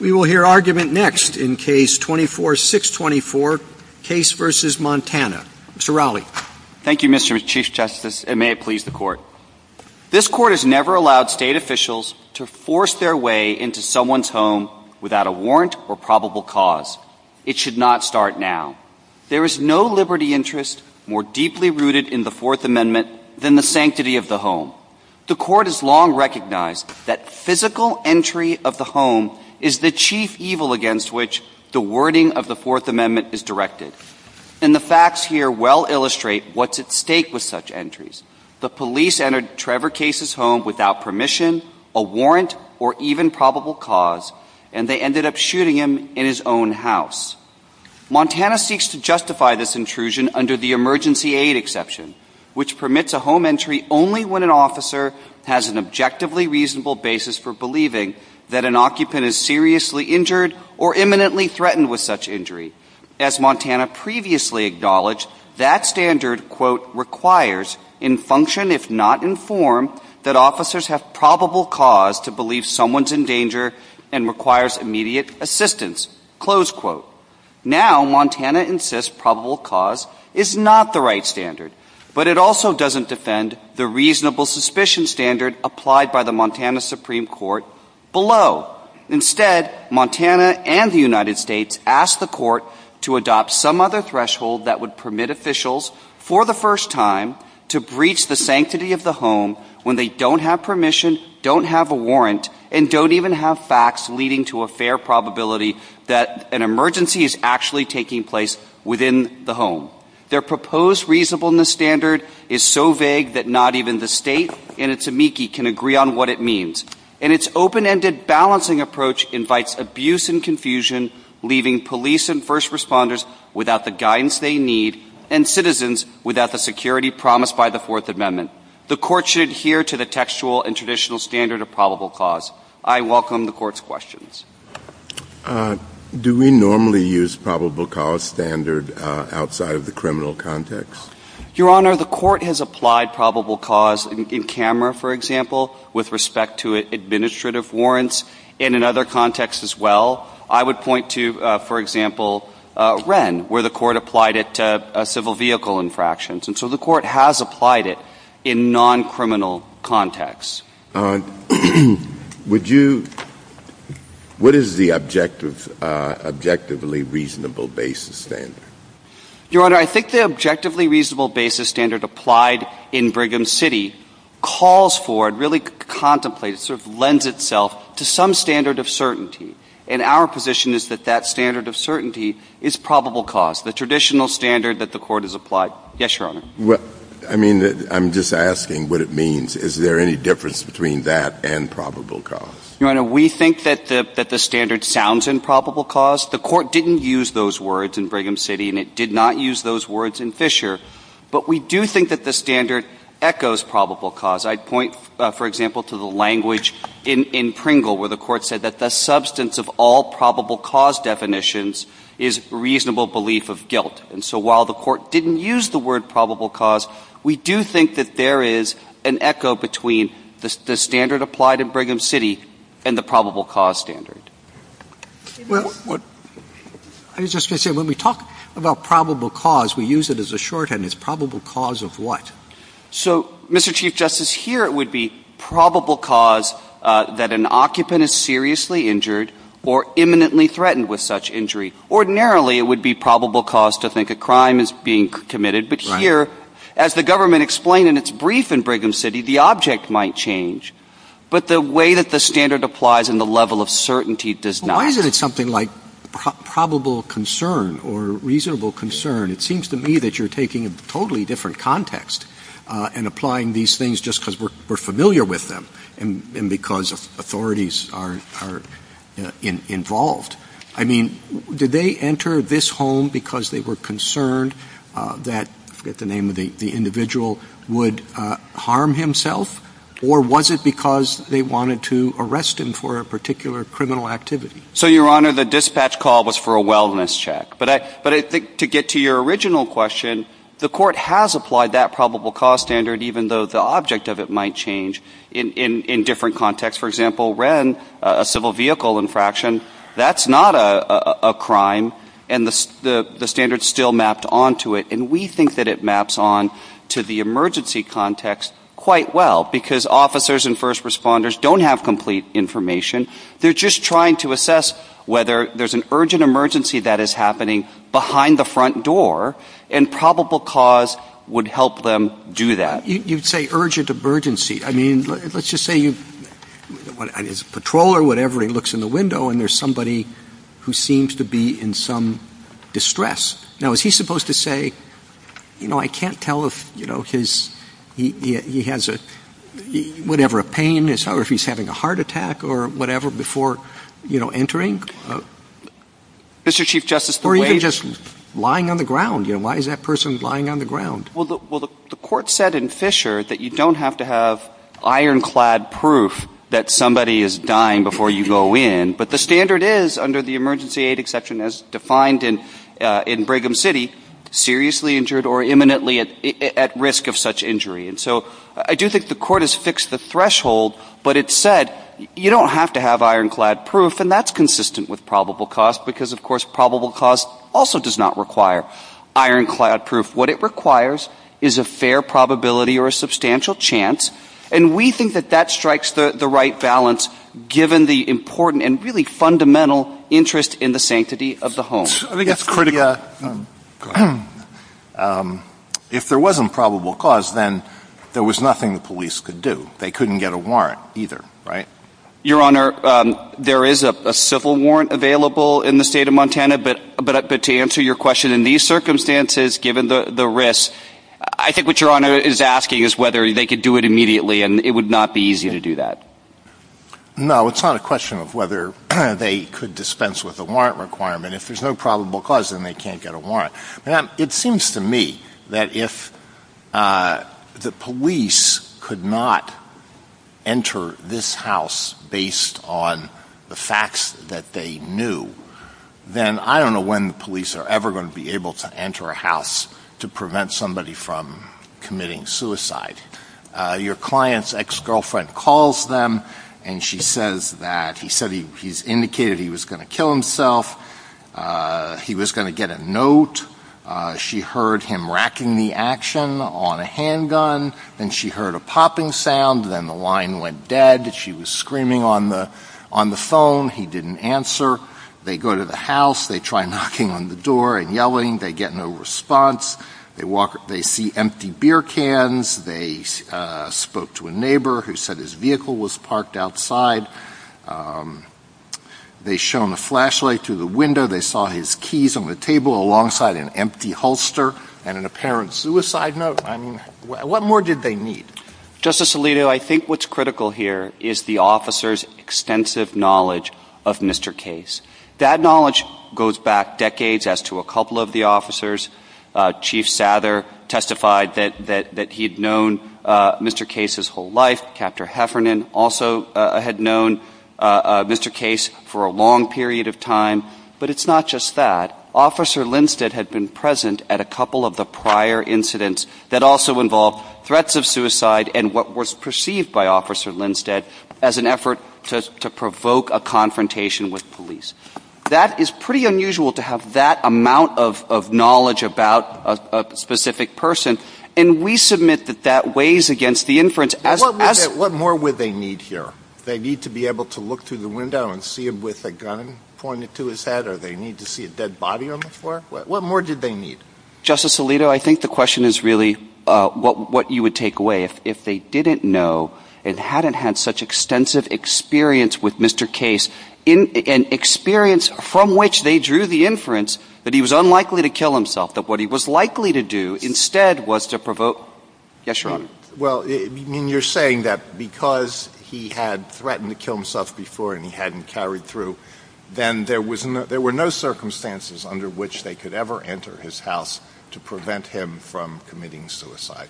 We will hear argument next in Case 24-624, Case v. Montana. Mr. Rowley. Thank you, Mr. Chief Justice, and may it please the Court. This Court has never allowed state officials to force their way into someone's home without a warrant or probable cause. It should not start now. There is no liberty interest more deeply rooted in the Fourth Amendment than the sanctity of the home. The Court has long recognized that physical entry of the home is the chief evil against which the wording of the Fourth Amendment is directed. And the facts here well illustrate what's at stake with such entries. The police entered Trevor Case's home without permission, a warrant, or even probable cause, and they ended up shooting him in his own house. Montana seeks to justify this intrusion under the emergency aid exception, which permits a home entry only when an officer has an objectively reasonable basis for believing that an occupant is seriously injured or imminently threatened with such injury. As Montana previously acknowledged, that standard, quote, requires, in function if not in form, that officers have probable cause to believe someone's in danger and requires immediate assistance, close quote. Now Montana insists probable cause is not the right standard, but it also doesn't defend the reasonable suspicion standard applied by the Montana Supreme Court below. Instead, Montana and the United States ask the Court to adopt some other threshold that would permit officials, for the first time, to breach the sanctity of the home when they don't have permission, don't have a warrant, and don't even have facts leading to a fair probability that an emergency is actually taking place within the home. Their proposed reasonableness standard is so vague that not even the state in its amici can agree on what it means. And its open-ended balancing approach invites abuse and confusion, leaving police and first responders without the guidance they need and citizens without the security promised by the Fourth Amendment. The Court should adhere to the textual and traditional standard of probable cause. I welcome the Court's questions. Do we normally use probable cause standard outside of the criminal context? Your Honor, the Court has applied probable cause in camera, for example, with respect to administrative warrants, and in other contexts as well. I would point to, for example, Wren, where the Court applied it to civil vehicle infractions. And so the Court has applied it in non-criminal contexts. Would you – what is the objectively reasonable basis standard? Your Honor, I think the objectively reasonable basis standard applied in Brigham City calls for, really contemplates, sort of lends itself to some standard of certainty. And our position is that that standard of certainty is probable cause, the traditional standard that the Court has applied. Yes, Your Honor. I mean, I'm just asking what it means. Is there any difference between that and probable cause? Your Honor, we think that the standard sounds in probable cause. The Court didn't use those words in Brigham City, and it did not use those words in Fisher. But we do think that the standard echoes probable cause. I'd point, for example, to the language in Pringle, where the Court said that the substance of all probable cause definitions is reasonable belief of guilt. And so while the Court didn't use the word probable cause, we do think that there is an echo between the standard applied in Brigham City and the probable cause standard. I was just going to say, when we talk about probable cause, we use it as a shorthand. It's probable cause of what? So, Mr. Chief Justice, here it would be probable cause that an occupant is seriously injured or imminently threatened with such injury. Ordinarily, it would be probable cause to think a crime is being committed. But here, as the government explained in its brief in Brigham City, the object might change. But the way that the standard applies and the level of certainty does not. Why is it something like probable concern or reasonable concern? It seems to me that you're taking a totally different context and applying these things just because we're familiar with them and because authorities are involved. I mean, did they enter this home because they were concerned that, I forget the name of the individual, would harm himself? Or was it because they wanted to arrest him for a particular criminal activity? So, Your Honor, the dispatch call was for a wellness check. But to get to your original question, the court has applied that probable cause standard even though the object of it might change in different contexts. For example, a civil vehicle infraction, that's not a crime. And the standard is still mapped on to it. And we think that it maps on to the emergency context quite well because officers and first responders don't have complete information. They're just trying to assess whether there's an urgent emergency that is happening behind the front door. And probable cause would help them do that. You say urgent emergency. I mean, let's just say it's a patrol or whatever, he looks in the window and there's somebody who seems to be in some distress. Now, is he supposed to say, you know, I can't tell if he has whatever, a pain or if he's having a heart attack or whatever before entering? Or even just lying on the ground. Why is that person lying on the ground? Well, the court said in Fisher that you don't have to have ironclad proof that somebody is dying before you go in. But the standard is under the emergency aid exception as defined in Brigham City, seriously injured or imminently at risk of such injury. And so I do think the court has fixed the threshold. But it said you don't have to have ironclad proof. And that's consistent with probable cause because, of course, probable cause also does not require ironclad proof. What it requires is a fair probability or a substantial chance. And we think that that strikes the right balance given the important and really fundamental interest in the sanctity of the home. I think that's critical. If there wasn't probable cause, then there was nothing the police could do. They couldn't get a warrant either, right? Your Honor, there is a civil warrant available in the state of Montana. But to answer your question, in these circumstances, given the risk, I think what Your Honor is asking is whether they could do it immediately. And it would not be easy to do that. No, it's not a question of whether they could dispense with a warrant requirement. If there's no probable cause, then they can't get a warrant. It seems to me that if the police could not enter this house based on the facts that they knew, then I don't know when the police are ever going to be able to enter a house to prevent somebody from committing suicide. Your client's ex-girlfriend calls them, and she says that he's indicated he was going to kill himself. He was going to get a note. She heard him racking the action on a handgun. Then she heard a popping sound. Then the line went dead. She was screaming on the phone. He didn't answer. They go to the house. They try knocking on the door and yelling. They get no response. They see empty beer cans. They spoke to a neighbor who said his vehicle was parked outside. They shone a flashlight through the window. They saw his keys on the table alongside an empty holster and an apparent suicide note. I mean, what more did they need? Justice Alito, I think what's critical here is the officer's extensive knowledge of Mr. Case. That knowledge goes back decades as to a couple of the officers. Chief Sather testified that he had known Mr. Case his whole life. Capt. Heffernan also had known Mr. Case for a long period of time. But it's not just that. Officer Lindstedt had been present at a couple of the prior incidents that also involved threats of suicide and what was perceived by Officer Lindstedt as an effort to provoke a confrontation with police. That is pretty unusual to have that amount of knowledge about a specific person, and we submit that that weighs against the inference. What more would they need here? They need to be able to look through the window and see him with a gun pointed to his head, or they need to see a dead body on the floor? What more did they need? Justice Alito, I think the question is really what you would take away. If they didn't know and hadn't had such extensive experience with Mr. Case, an experience from which they drew the inference that he was unlikely to kill himself, that what he was likely to do instead was to provoke— Yes, Your Honor. Well, you're saying that because he had threatened to kill himself before and he hadn't carried through, then there were no circumstances under which they could ever enter his house to prevent him from committing suicide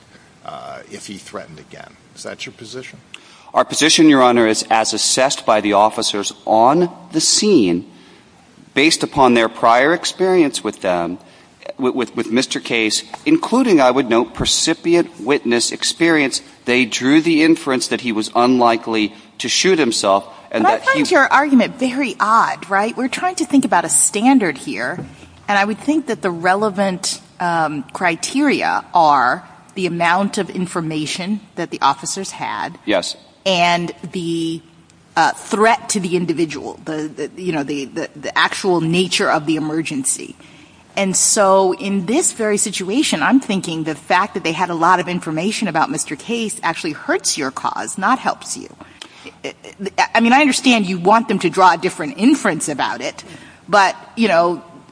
if he threatened again. Is that your position? Our position, Your Honor, is as assessed by the officers on the scene, based upon their prior experience with them, with Mr. Case, including, I would note, precipient witness experience, they drew the inference that he was unlikely to shoot himself and that he— I find your argument very odd, right? We're trying to think about a standard here, and I would think that the relevant criteria are the amount of information that the officers had— Yes. —and the threat to the individual, the actual nature of the emergency. And so in this very situation, I'm thinking the fact that they had a lot of information about Mr. Case actually hurts your cause, not helps you. I mean, I understand you'd want them to draw a different inference about it, but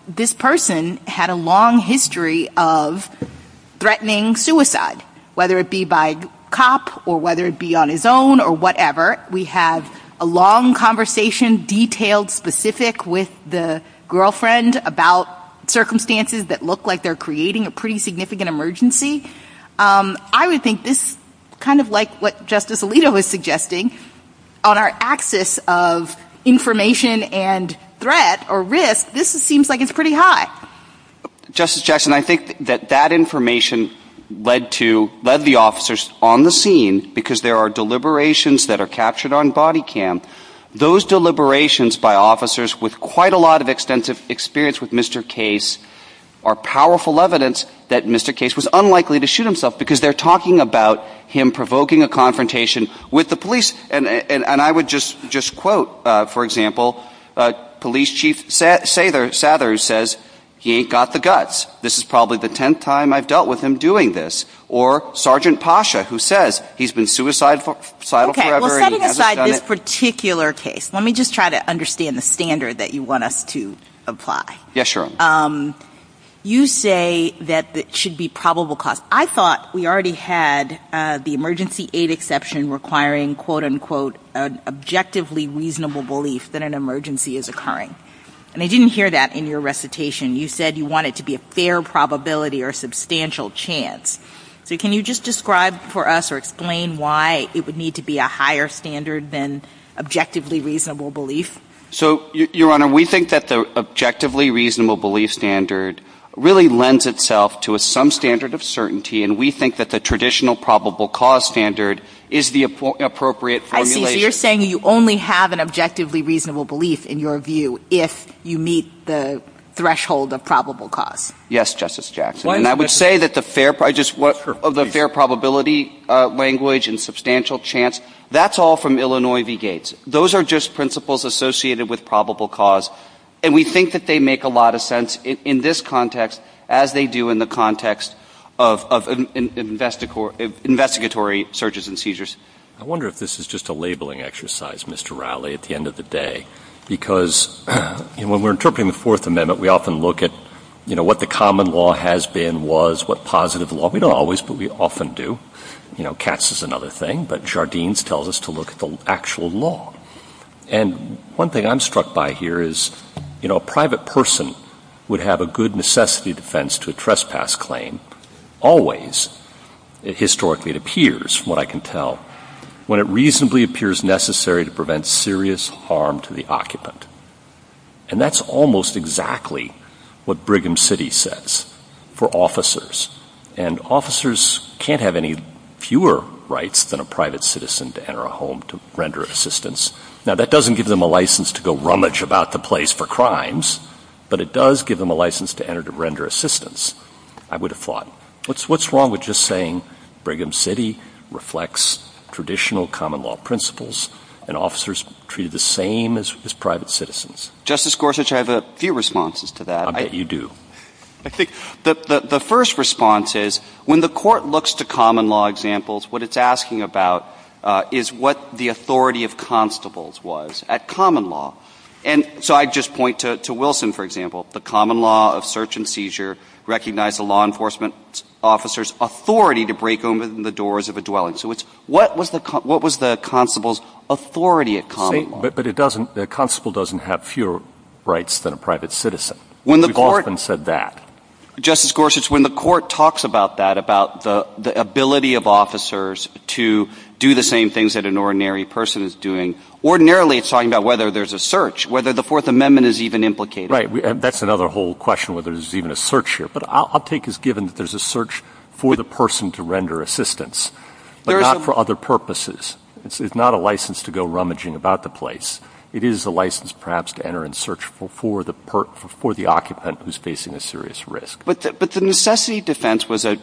this person had a long history of threatening suicide, whether it be by cop or whether it be on his own or whatever. We have a long conversation, detailed, specific, with the girlfriend about circumstances that look like they're creating a pretty significant emergency. I would think this, kind of like what Justice Alito was suggesting, on our axis of information and threat or risk, this seems like it's pretty high. Justice Jackson, I think that that information led the officers on the scene because there are deliberations that are captured on body cam. Those deliberations by officers with quite a lot of extensive experience with Mr. Case are powerful evidence that Mr. Case was unlikely to shoot himself because they're talking about him provoking a confrontation with the police. And I would just quote, for example, Police Chief Sather, who says, he ain't got the guts. This is probably the tenth time I've dealt with him doing this. Or Sergeant Pasha, who says, he's been suicidal forever. Okay, well, setting aside this particular case, let me just try to understand the standard that you want us to apply. Yes, sure. You say that it should be probable cause. I thought we already had the emergency aid exception requiring, quote-unquote, an objectively reasonable belief that an emergency is occurring. And I didn't hear that in your recitation. You said you want it to be a fair probability or substantial chance. So can you just describe for us or explain why it would need to be a higher standard than objectively reasonable belief? So, Your Honor, we think that the objectively reasonable belief standard really lends itself to some standard of certainty. And we think that the traditional probable cause standard is the appropriate formulation. I think you're saying you only have an objectively reasonable belief, in your view, if you meet the threshold of probable cause. Yes, Justice Jackson. And I would say that the fair probability language and substantial chance, that's all from Illinois v. Gates. Those are just principles associated with probable cause. And we think that they make a lot of sense in this context as they do in the context of investigatory searches and seizures. I wonder if this is just a labeling exercise, Mr. Rowley, at the end of the day. Because when we're interpreting the Fourth Amendment, we often look at what the common law has been, was, what positive law. We don't always, but we often do. You know, cats is another thing. But Jardines tells us to look at the actual law. And one thing I'm struck by here is, you know, a private person would have a good necessity defense to a trespass claim, always, historically it appears, from what I can tell, when it reasonably appears necessary to prevent serious harm to the occupant. And that's almost exactly what Brigham City says for officers. And officers can't have any fewer rights than a private citizen to enter a home to render assistance. Now, that doesn't give them a license to go rummage about the place for crimes, but it does give them a license to enter to render assistance. I would have thought, what's wrong with just saying Brigham City reflects traditional common law principles and officers are treated the same as private citizens? Justice Gorsuch, I have a few responses to that. I bet you do. The first response is, when the court looks to common law examples, what it's asking about is what the authority of constables was at common law. And so I'd just point to Wilson, for example. The common law of search and seizure recognized a law enforcement officer's authority to break open the doors of a dwelling. So what was the constable's authority at common law? But the constable doesn't have fewer rights than a private citizen. We've often said that. Justice Gorsuch, when the court talks about that, about the ability of officers to do the same things that an ordinary person is doing, ordinarily it's talking about whether there's a search, whether the Fourth Amendment is even implicated. Right, and that's another whole question, whether there's even a search here. But I'll take as given that there's a search for the person to render assistance, but not for other purposes. It's not a license to go rummaging about the place. It is a license perhaps to enter and search for the occupant who's facing a serious risk. But the necessity defense was a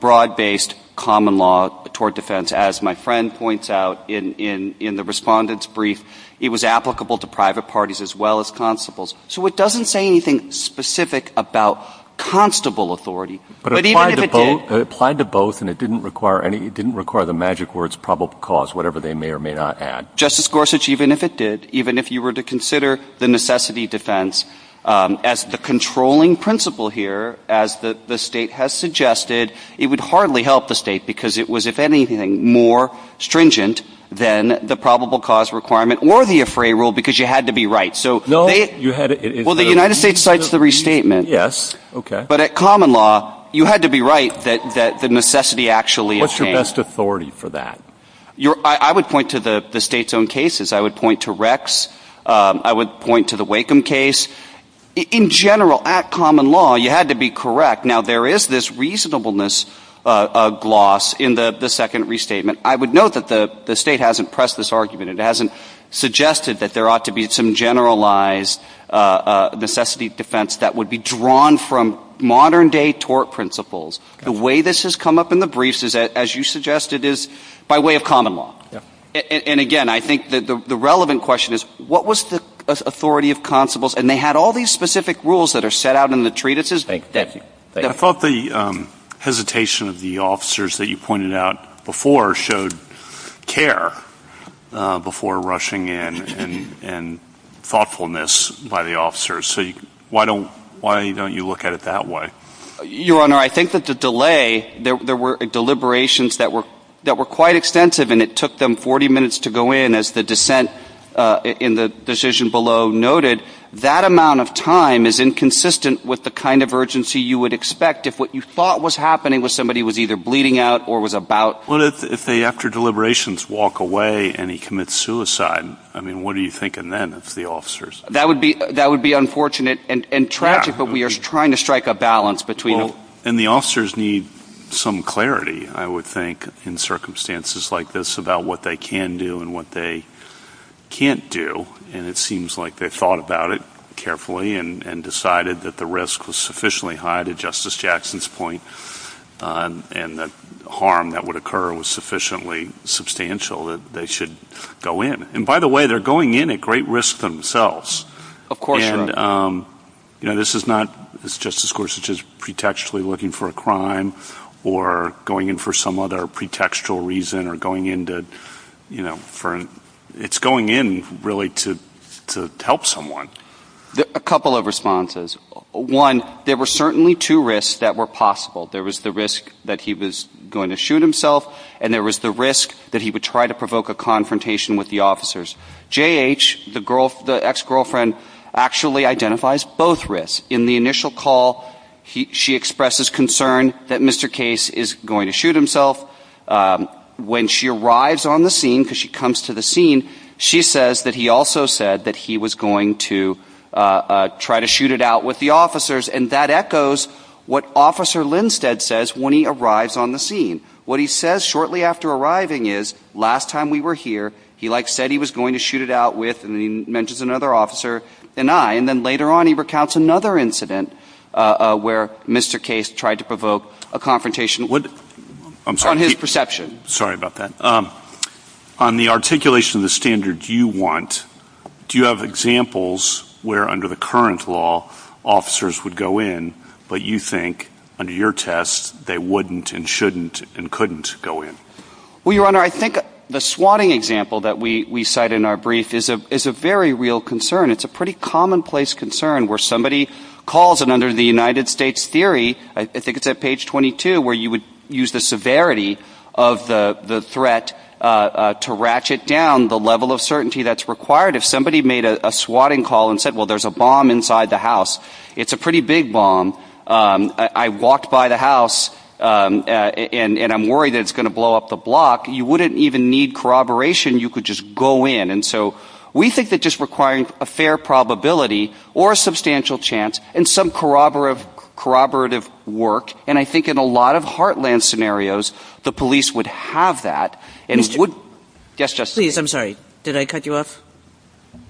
broad-based common law toward defense. As my friend points out in the respondent's brief, it was applicable to private parties as well as constables. So it doesn't say anything specific about constable authority. But it applied to both, and it didn't require the magic words probable cause, whatever they may or may not add. Justice Gorsuch, even if it did, even if you were to consider the necessity defense as the controlling principle here, as the state has suggested, it would hardly help the state because it was, if anything, more stringent than the probable cause requirement or the AFRAI rule because you had to be right. Well, the United States cites the restatement. Yes, okay. But at common law, you had to be right that the necessity actually… What's your best authority for that? I would point to the state's own cases. I would point to Rex. I would point to the Wakeham case. In general, at common law, you had to be correct. Now, there is this reasonableness gloss in the second restatement. I would note that the state hasn't pressed this argument. It hasn't suggested that there ought to be some generalized necessity defense that would be drawn from modern-day tort principles. The way this has come up in the briefs, as you suggested, is by way of common law. And, again, I think the relevant question is what was the authority of constables? And they had all these specific rules that are set out in the treatises. I thought the hesitation of the officers that you pointed out before showed care before rushing in and thoughtfulness by the officers. So why don't you look at it that way? Your Honor, I think that the delay, there were deliberations that were quite extensive, and it took them 40 minutes to go in, as the dissent in the decision below noted. That amount of time is inconsistent with the kind of urgency you would expect if what you thought was happening was somebody was either bleeding out or was about. What if they, after deliberations, walk away and he commits suicide? I mean, what are you thinking then of the officers? That would be unfortunate and tragic, but we are trying to strike a balance between it. And the officers need some clarity, I would think, in circumstances like this about what they can do and what they can't do, and it seems like they thought about it carefully and decided that the risk was sufficiently high to Justice Jackson's point and the harm that would occur was sufficiently substantial that they should go in. And, by the way, they're going in at great risk themselves. Of course, Your Honor. You know, this is not Justice Gorsuch is pretextually looking for a crime or going in for some other pretextual reason or going in to, you know, for a... It's going in, really, to help someone. A couple of responses. One, there were certainly two risks that were possible. There was the risk that he was going to shoot himself, and there was the risk that he would try to provoke a confrontation with the officers. J.H., the ex-girlfriend, actually identifies both risks. In the initial call, she expresses concern that Mr. Case is going to shoot himself. When she arrives on the scene, because she comes to the scene, she says that he also said that he was going to try to shoot it out with the officers, and that echoes what Officer Lindstedt says when he arrives on the scene. What he says shortly after arriving is, Last time we were here, he, like, said he was going to shoot it out with, and then he mentions another officer and I, and then later on he recounts another incident where Mr. Case tried to provoke a confrontation. I'm sorry. On his perception. Sorry about that. On the articulation of the standard you want, do you have examples where, under the current law, officers would go in, but you think, under your test, they wouldn't and shouldn't and couldn't go in? Well, Your Honor, I think the swatting example that we cite in our brief is a very real concern. It's a pretty commonplace concern where somebody calls, and under the United States theory, I think it's at page 22, where you would use the severity of the threat to ratchet down the level of certainty that's required. If somebody made a swatting call and said, well, there's a bomb inside the house, it's a pretty big bomb. I walked by the house and I'm worried that it's going to blow up the block. You wouldn't even need corroboration. You could just go in. And so we think that just requiring a fair probability or a substantial chance and some corroborative work, and I think in a lot of heartland scenarios, the police would have that. Yes, Justice. I'm sorry. Did I cut you off?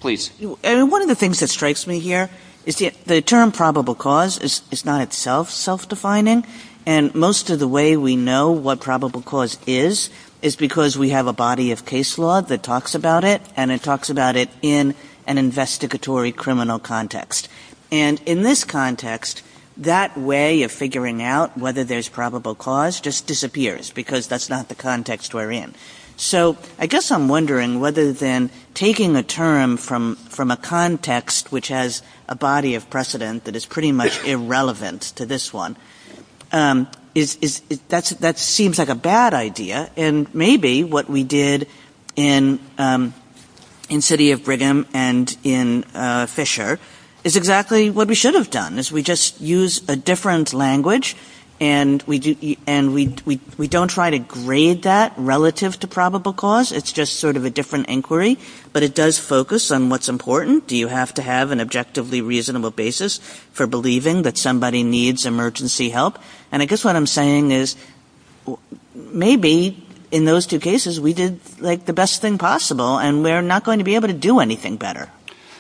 Please. One of the things that strikes me here is the term probable cause is not itself self-defining, and most of the way we know what probable cause is is because we have a body of case law that talks about it, and it talks about it in an investigatory criminal context. And in this context, that way of figuring out whether there's probable cause just disappears because that's not the context we're in. So I guess I'm wondering whether then taking a term from a context which has a body of precedent that is pretty much irrelevant to this one, that seems like a bad idea, and maybe what we did in City of Brigham and in Fisher is exactly what we should have done. We just use a different language, and we don't try to grade that relative to probable cause. It's just sort of a different inquiry, but it does focus on what's important. Do you have to have an objectively reasonable basis for believing that somebody needs emergency help? And I guess what I'm saying is maybe in those two cases we did the best thing possible, and we're not going to be able to do anything better.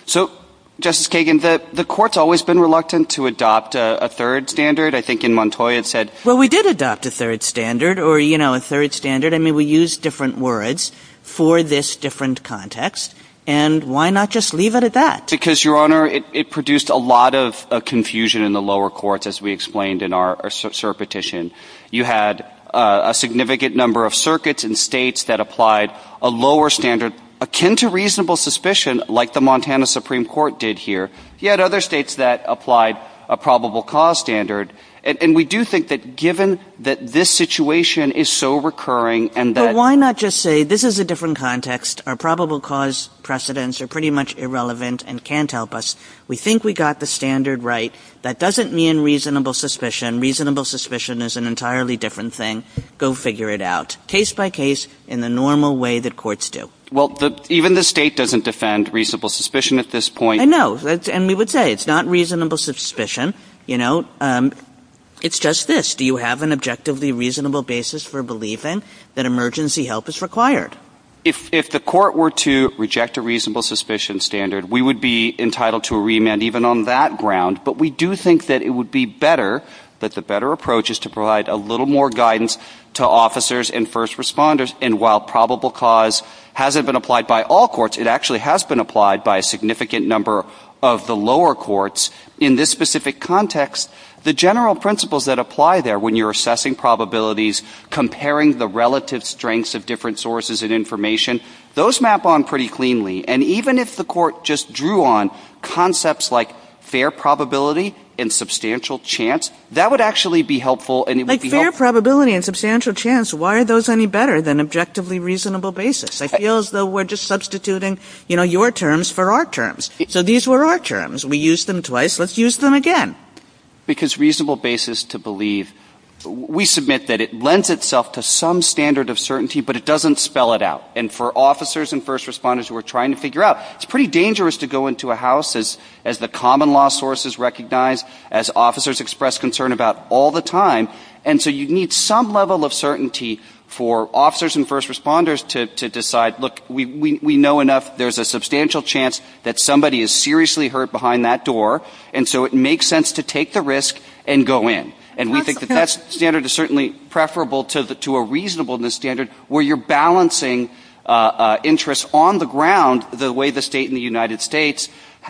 So, Justice Kagan, the Court's always been reluctant to adopt a third standard. I think in Montoy it said... Well, we did adopt a third standard, or, you know, a third standard. I mean, we used different words for this different context, and why not just leave it at that? Because, Your Honor, it produced a lot of confusion in the lower courts, as we explained in our cert petition. You had a significant number of circuits and states that applied a lower standard akin to reasonable suspicion like the Montana Supreme Court did here. You had other states that applied a probable cause standard, and we do think that given that this situation is so recurring and that... But why not just say, this is a different context. Our probable cause precedents are pretty much irrelevant and can't help us. We think we got the standard right. That doesn't mean reasonable suspicion. Reasonable suspicion is an entirely different thing. Go figure it out, case by case, in the normal way that courts do. Well, even the state doesn't defend reasonable suspicion at this point. I know, and we would say it's not reasonable suspicion. You know, it's just this. Do you have an objectively reasonable basis for believing that emergency help is required? If the court were to reject a reasonable suspicion standard, we would be entitled to a remand even on that ground. But we do think that it would be better, that the better approach is to provide a little more guidance to officers and first responders. And while probable cause hasn't been applied by all courts, it actually has been applied by a significant number of the lower courts in this specific context, the general principles that apply there when you're assessing probabilities, comparing the relative strengths of different sources of information, those map on pretty cleanly. And even if the court just drew on concepts like fair probability and substantial chance, that would actually be helpful. Like fair probability and substantial chance, why are those any better than objectively reasonable basis? I feel as though we're just substituting your terms for our terms. So these were our terms. We used them twice. Let's use them again. Because reasonable basis to believe, we submit that it lends itself to some standard of certainty, but it doesn't spell it out. And for officers and first responders who are trying to figure out, it's pretty dangerous to go into a house as the common law source is recognized, as officers express concern about all the time. And so you need some level of certainty for officers and first responders to decide, look, we know enough. There's a substantial chance that somebody is seriously hurt behind that door. And so it makes sense to take the risk and go in. And we think that that standard is certainly preferable to a reasonable standard where you're balancing interests on the ground the way the state and the United States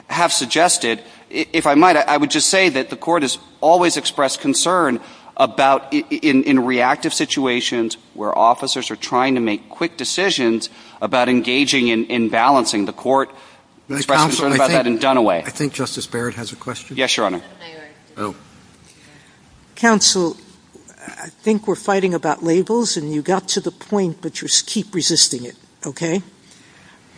have suggested. If I might, I would just say that the Court has always expressed concern about in reactive situations where officers are trying to make quick decisions about engaging in balancing. The Court expressed concern about that in Dunaway. I think Justice Barrett has a question. Yes, Your Honor. Counsel, I think we're fighting about labels, and you got to the point, but just keep resisting it, okay?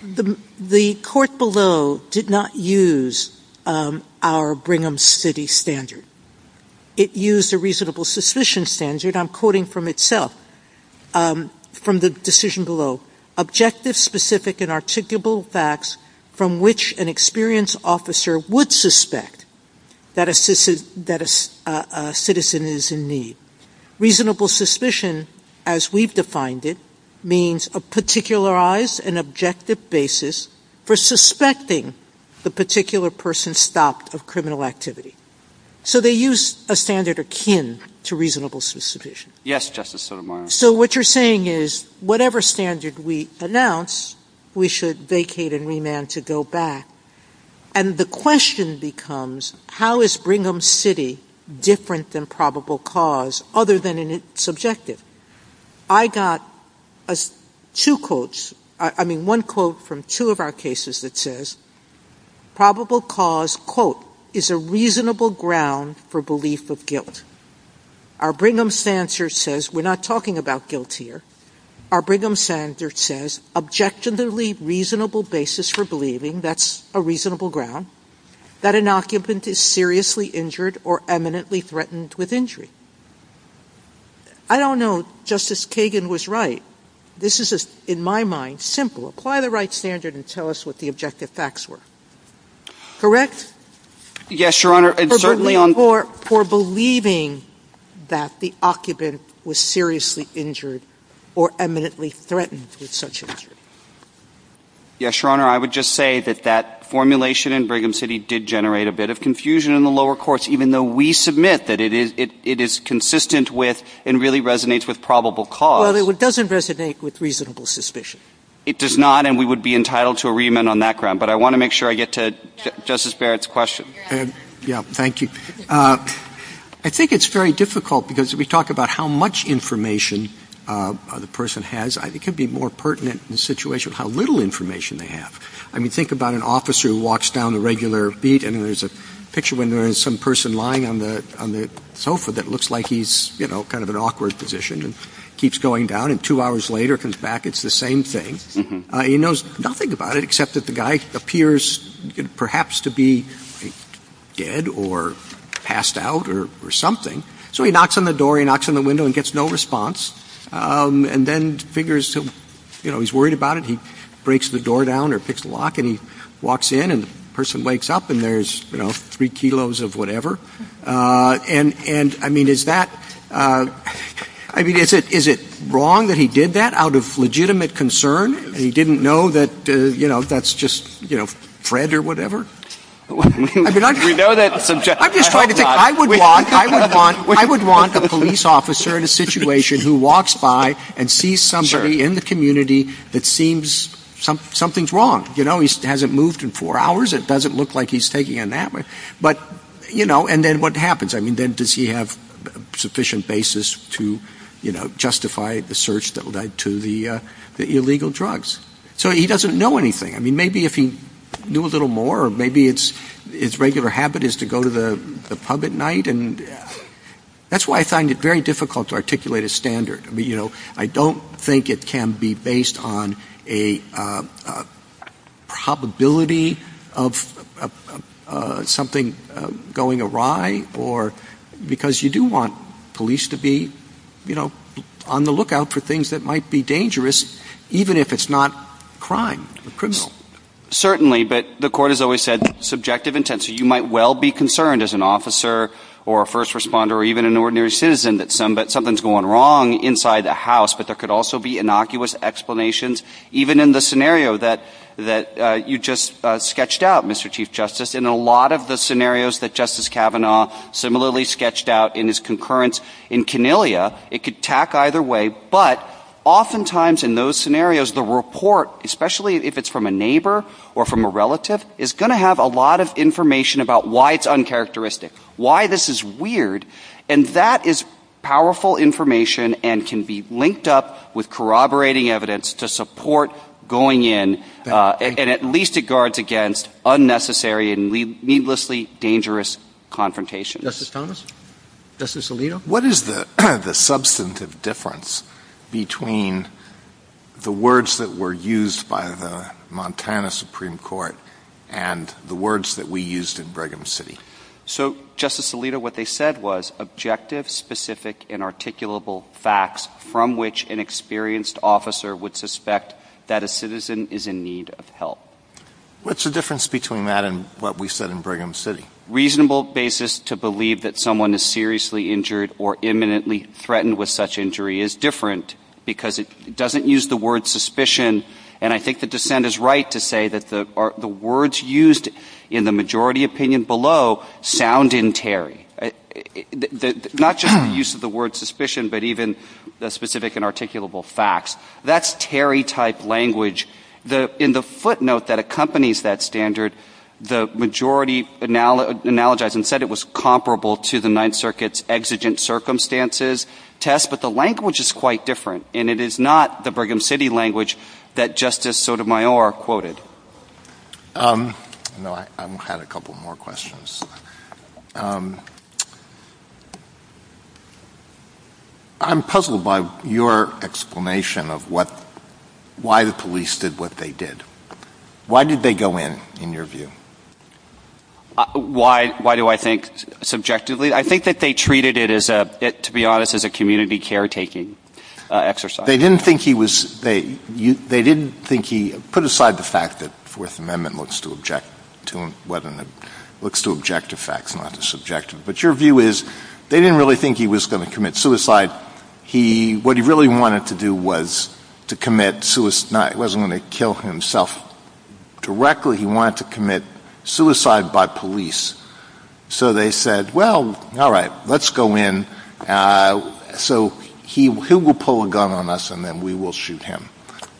The Court below did not use our Brigham City standard. It used a reasonable suspicion standard. I'm quoting from itself, from the decision below. Objective, specific, and articulable facts from which an experienced officer would suspect that a citizen is in need. Reasonable suspicion, as we've defined it, means a particularized and objective basis for suspecting the particular person stopped of criminal activity. So they used a standard akin to reasonable suspicion. Yes, Justice Sotomayor. So what you're saying is whatever standard we announce, we should vacate and remand to go back. And the question becomes, how is Brigham City different than probable cause, other than in its objective? I got two quotes. I mean, one quote from two of our cases that says, probable cause, quote, is a reasonable ground for belief of guilt. Our Brigham standard says, we're not talking about guilt here. Our Brigham standard says, objectively reasonable basis for believing, that's a reasonable ground, that an occupant is seriously injured or eminently threatened with injury. I don't know if Justice Kagan was right. This is, in my mind, simple. Apply the right standard and tell us what the objective facts were. Correct? Yes, Your Honor. For believing that the occupant was seriously injured or eminently threatened with such injury. Yes, Your Honor. I would just say that that formulation in Brigham City did generate a bit of confusion in the lower courts, even though we submit that it is consistent with and really resonates with probable cause. Well, it doesn't resonate with reasonable suspicion. It does not, and we would be entitled to a remand on that ground. But I want to make sure I get to Justice Barrett's question. Yes, Your Honor. Thank you. I think it's very difficult because we talk about how much information the person has. It could be more pertinent in a situation of how little information they have. I mean, think about an officer who walks down the regular beat and there's a picture when there is some person lying on the sofa that looks like he's, you know, kind of an awkward position and keeps going down. And two hours later comes back, it's the same thing. He knows nothing about it except that the guy appears perhaps to be dead or passed out or something. So he knocks on the door, he knocks on the window and gets no response. And then figures, you know, he's worried about it. He breaks the door down or hits the lock and he walks in and the person wakes up and there's, you know, three kilos of whatever. And, I mean, is that, I mean, is it wrong that he did that out of legitimate concern and he didn't know that, you know, that's just, you know, Fred or whatever? I mean, I'm just trying to think. I would want a police officer in a situation who walks by and sees somebody in the community that seems something's wrong. You know, he hasn't moved in four hours. It doesn't look like he's taking a nap. But, you know, and then what happens? I mean, then does he have sufficient basis to, you know, justify the search that led to the illegal drugs? So he doesn't know anything. I mean, maybe if he knew a little more or maybe it's his regular habit is to go to the pub at night. And that's why I find it very difficult to articulate a standard. I mean, you know, I don't think it can be based on a probability of something going awry or because you do want police to be, you know, on the lookout for things that might be dangerous, even if it's not a crime, a criminal. Certainly, but the court has always said subjective intent. So you might well be concerned as an officer or a first responder or even an ordinary citizen that something's going wrong inside the house. But there could also be innocuous explanations, even in the scenario that you just sketched out, Mr. Chief Justice. In a lot of the scenarios that Justice Kavanaugh similarly sketched out in his concurrence in Cornelia, it could tack either way. But oftentimes in those scenarios, the report, especially if it's from a neighbor or from a relative, is going to have a lot of information about why it's uncharacteristic, why this is weird. And that is powerful information and can be linked up with corroborating evidence to support going in. And at least it guards against unnecessary and needlessly dangerous confrontation. Justice Thomas? Justice Alito? What is the substantive difference between the words that were used by the Montana Supreme Court and the words that we used in Brigham City? So, Justice Alito, what they said was objective, specific, and articulable facts from which an experienced officer would suspect that a citizen is in need of help. What's the difference between that and what we said in Brigham City? A reasonable basis to believe that someone is seriously injured or imminently threatened with such injury is different because it doesn't use the word suspicion. And I think the dissent is right to say that the words used in the majority opinion below sound in Terry. Not just the use of the word suspicion, but even the specific and articulable facts. That's Terry-type language. In the footnote that accompanies that standard, the majority analogized and said it was comparable to the Ninth Circuit's exigent circumstances test, but the language is quite different, and it is not the Brigham City language that Justice Sotomayor quoted. I had a couple more questions. I'm puzzled by your explanation of why the police did what they did. Why did they go in, in your view? Why do I think subjectively? I think that they treated it, to be honest, as a community caretaking exercise. They didn't think he was... They didn't think he... Put aside the fact that the Fourth Amendment looks to objective facts, not just subjective. But your view is they didn't really think he was going to commit suicide. What he really wanted to do was to commit suicide. He wasn't going to kill himself directly. He wanted to commit suicide by police. So they said, well, all right, let's go in. So he will pull a gun on us, and then we will shoot him.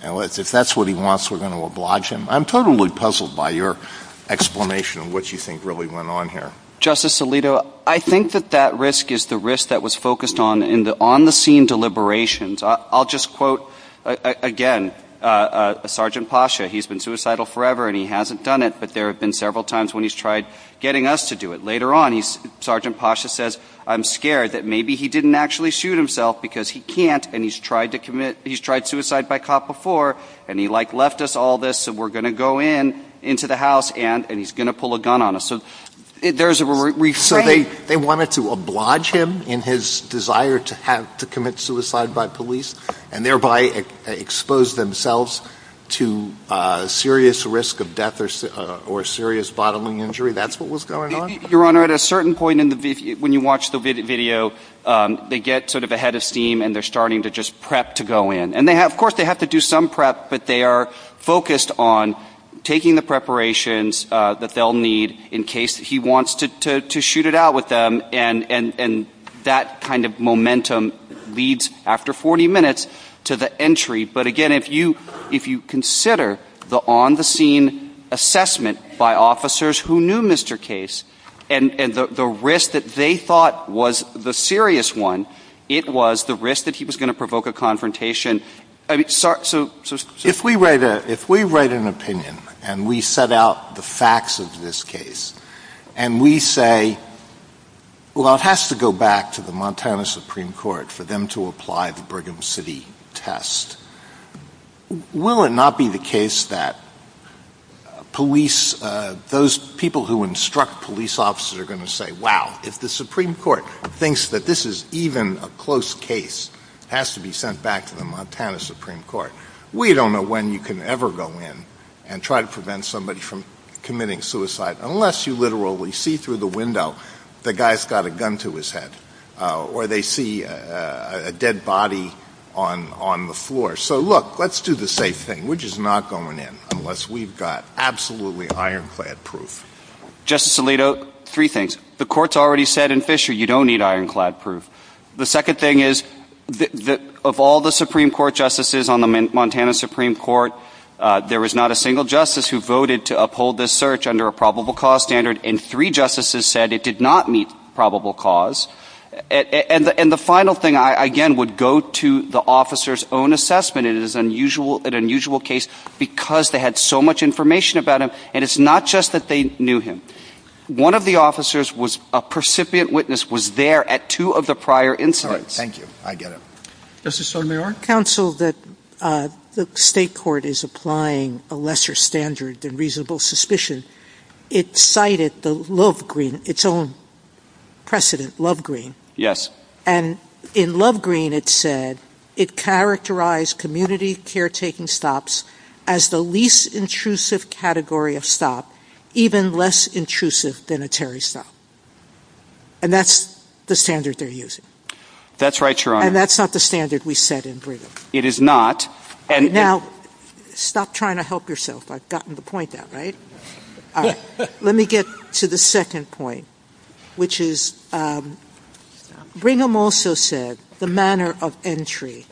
If that's what he wants, we're going to oblige him. I'm totally puzzled by your explanation of what you think really went on here. Justice Alito, I think that that risk is the risk that was focused on in the on-the-scene deliberations. I'll just quote, again, Sergeant Pasha. He's been suicidal forever, and he hasn't done it, but there have been several times when he's tried getting us to do it. Later on, Sergeant Pasha says, I'm scared that maybe he didn't actually shoot himself because he can't, and he's tried suicide by cop before, and he left us all this, so we're going to go into the house, and he's going to pull a gun on us. So they wanted to oblige him in his desire to commit suicide by police, and thereby expose themselves to serious risk of death or serious bodily injury. That's what was going on? Your Honor, at a certain point when you watch the video, they get sort of a head of steam, and they're starting to just prep to go in. And, of course, they have to do some prep, but they are focused on taking the preparations that they'll need in case he wants to shoot it out with them, and that kind of momentum leads, after 40 minutes, to the entry. But, again, if you consider the on-the-scene assessment by officers who knew Mr. Case and the risk that they thought was the serious one, it was the risk that he was going to provoke a confrontation. If we write an opinion, and we set out the facts of this case, and we say, well, it has to go back to the Montana Supreme Court for them to apply the Brigham City test, will it not be the case that those people who instruct police officers are going to say, wow, if the Supreme Court thinks that this is even a close case, it has to be sent back to the Montana Supreme Court. We don't know when you can ever go in and try to prevent somebody from committing suicide unless you literally see through the window the guy's got a gun to his head, or they see a dead body on the floor. So, look, let's do the safe thing. We're just not going in unless we've got absolutely ironclad proof. Justice Alito, three things. The court's already said in Fisher you don't need ironclad proof. The second thing is, of all the Supreme Court justices on the Montana Supreme Court, there was not a single justice who voted to uphold this search under a probable cause standard, and three justices said it did not meet probable cause. And the final thing, I again would go to the officer's own assessment. It is an unusual case because they had so much information about him, and it's not just that they knew him. One of the officers was a percipient witness, was there at two of the prior incidents. Thank you. I get it. Justice Sotomayor? Counsel that the state court is applying a lesser standard than reasonable suspicion, it cited the Lovegreen, its own precedent, Lovegreen. Yes. And in Lovegreen it said, it characterized community caretaking stops as the least intrusive category of stop, even less intrusive than a Terry stop. And that's the standard they're using. That's right, Your Honor. And that's not the standard we set in Brigham. It is not. Now, stop trying to help yourself. I've gotten the point there, right? Let me get to the second point, which is Brigham also said the manner of entry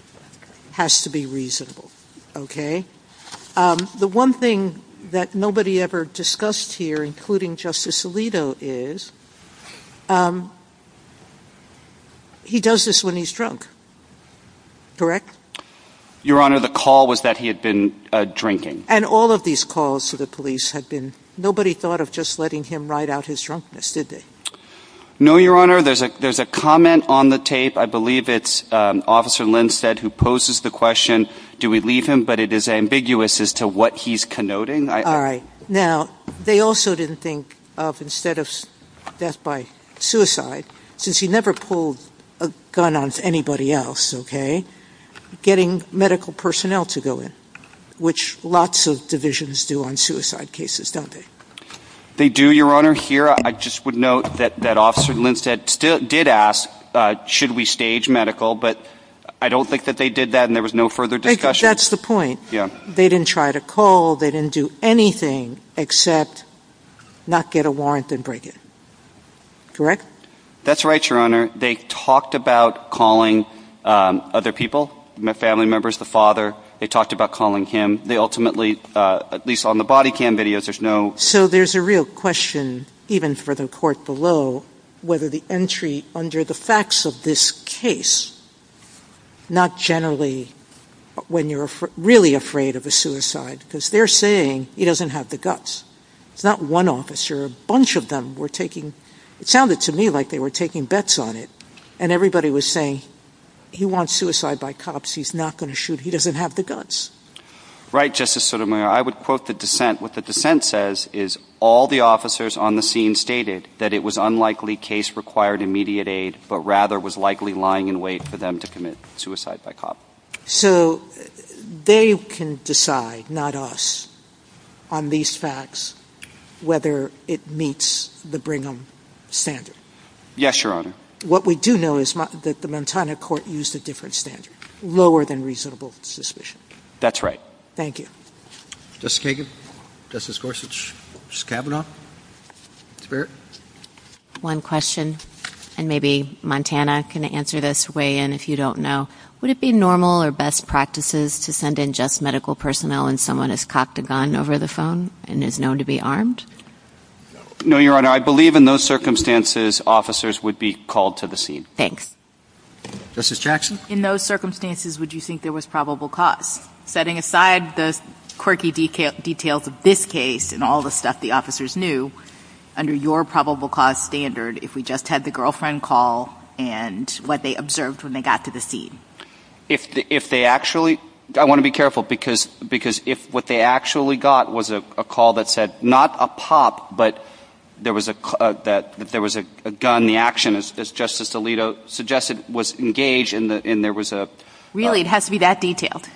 has to be reasonable, okay? The one thing that nobody ever discussed here, including Justice Alito, is he does this when he's drunk, correct? Your Honor, the call was that he had been drinking. And all of these calls to the police had been, nobody thought of just letting him ride out his drunkness, did they? No, Your Honor. There's a comment on the tape. I believe it's Officer Lindstedt who poses the question, do we leave him? But it is ambiguous as to what he's connoting. All right. Now, they also didn't think of, instead of death by suicide, since he never pulled a gun on anybody else, okay, getting medical personnel to go in, which lots of divisions do on suicide cases, don't they? They do, Your Honor. Here, I just would note that Officer Lindstedt did ask, should we stage medical? But I don't think that they did that and there was no further discussion. That's the point. They didn't try to call. They didn't do anything except not get a warrant and break it, correct? That's right, Your Honor. They talked about calling other people, family members, the father. They talked about calling him. They ultimately, at least on the body cam videos, there's no... So there's a real question, even for the court below, whether the entry under the facts of this case, not generally when you're really afraid of a suicide, because they're saying he doesn't have the guts. It's not one officer. A bunch of them were taking... it sounded to me like they were taking bets on it and everybody was saying he wants suicide by cops, he's not going to shoot, he doesn't have the guts. Right, Justice Sotomayor. I would quote the dissent. What the dissent says is, all the officers on the scene stated that it was unlikely case required immediate aid, but rather was likely lying in wait for them to commit suicide by cops. So they can decide, not us, on these facts, whether it meets the Brigham standard. Yes, Your Honor. What we do know is that the Montana court used a different standard, lower than reasonable suspicion. That's right. Thank you. Justice Kagan? Justice Gorsuch? Justice Kavanaugh? One question, and maybe Montana can answer this, weigh in if you don't know. Would it be normal or best practices to send in just medical personnel when someone has copped a gun over the phone and is known to be armed? No, Your Honor. I believe in those circumstances, officers would be called to the scene. Thanks. Justice Jackson? In those circumstances, would you think there was probable cause? Setting aside the quirky details of this case and all the stuff the officers knew, under your probable cause standard, if we just had the girlfriend call and what they observed when they got to the scene? If they actually, I want to be careful, because if what they actually got was a call that said, not a pop, but there was a gun, the action, as Justice Alito suggested, was engaged and there was a... Really? It has to be that detailed?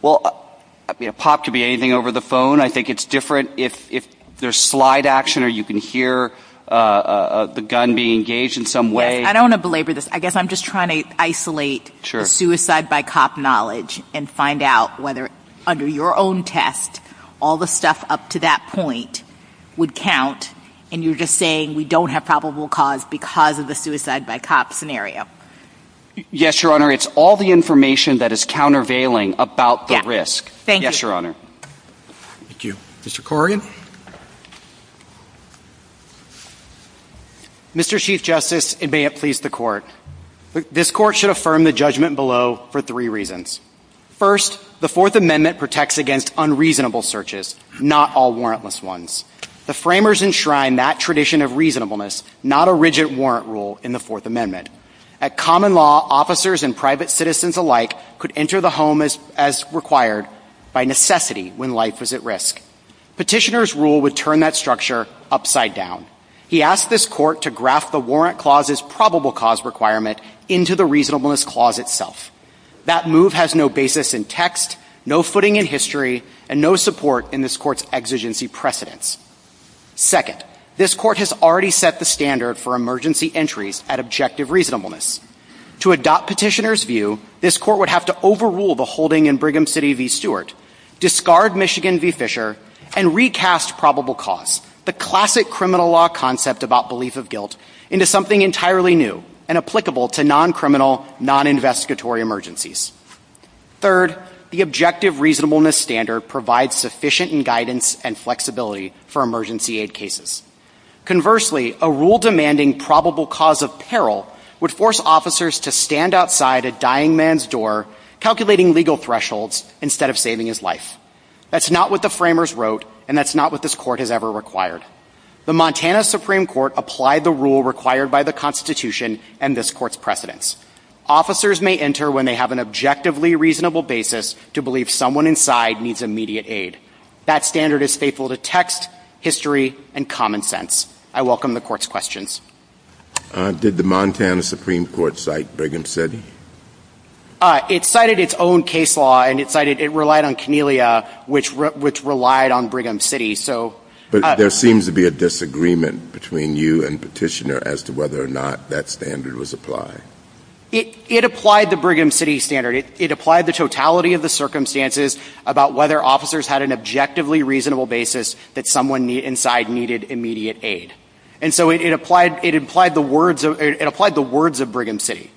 Well, a pop could be anything over the phone. I think it's different if there's slide action or you can hear the gun being engaged in some way. I don't want to belabor this. I guess I'm just trying to isolate suicide by cop knowledge and find out whether under your own test, all the stuff up to that point would count, and you're just saying we don't have probable cause because of the suicide by cop scenario. Yes, Your Honor. It's all the information that is countervailing about the risk. Thank you. Yes, Your Honor. Thank you. Mr. Corrigan? Mr. Chief Justice, and may it please the Court, this Court should affirm the judgment below for three reasons. First, the Fourth Amendment protects against unreasonable searches, not all warrantless ones. The framers enshrine that tradition of reasonableness, not a rigid warrant rule in the Fourth Amendment. At common law, officers and private citizens alike could enter the home as required by necessity when life is at risk. Petitioner's rule would turn that structure upside down. He asked this Court to graph the warrant clause's probable cause requirement into the reasonableness clause itself. That move has no basis in text, no footing in history, and no support in this Court's exigency precedence. Second, this Court has already set the standard for emergency entries at objective reasonableness. To adopt Petitioner's view, this Court would have to overrule the holding in Brigham City v. Stewart, discard Michigan v. Fisher, and recast probable cause, the classic criminal law concept about belief of guilt, into something entirely new and applicable to non-criminal, non-investigatory emergencies. Third, the objective reasonableness standard provides sufficient guidance and flexibility for emergency aid cases. Conversely, a rule demanding probable cause of peril would force officers to stand outside a dying man's door, calculating legal thresholds instead of saving his life. That's not what the framers wrote, and that's not what this Court has ever required. The Montana Supreme Court applied the rule required by the Constitution and this Court's precedence. Officers may enter when they have an objectively reasonable basis to believe someone inside needs immediate aid. That standard is faithful to text, history, and common sense. I welcome the Court's questions. Did the Montana Supreme Court cite Brigham City? It cited its own case law, and it relied on Cornelia, which relied on Brigham City. But there seems to be a disagreement between you and Petitioner as to whether or not that standard was applied. It applied the Brigham City standard. It applied the totality of the circumstances about whether officers had an objectively reasonable basis that someone inside needed immediate aid. And so it applied the words of Brigham City.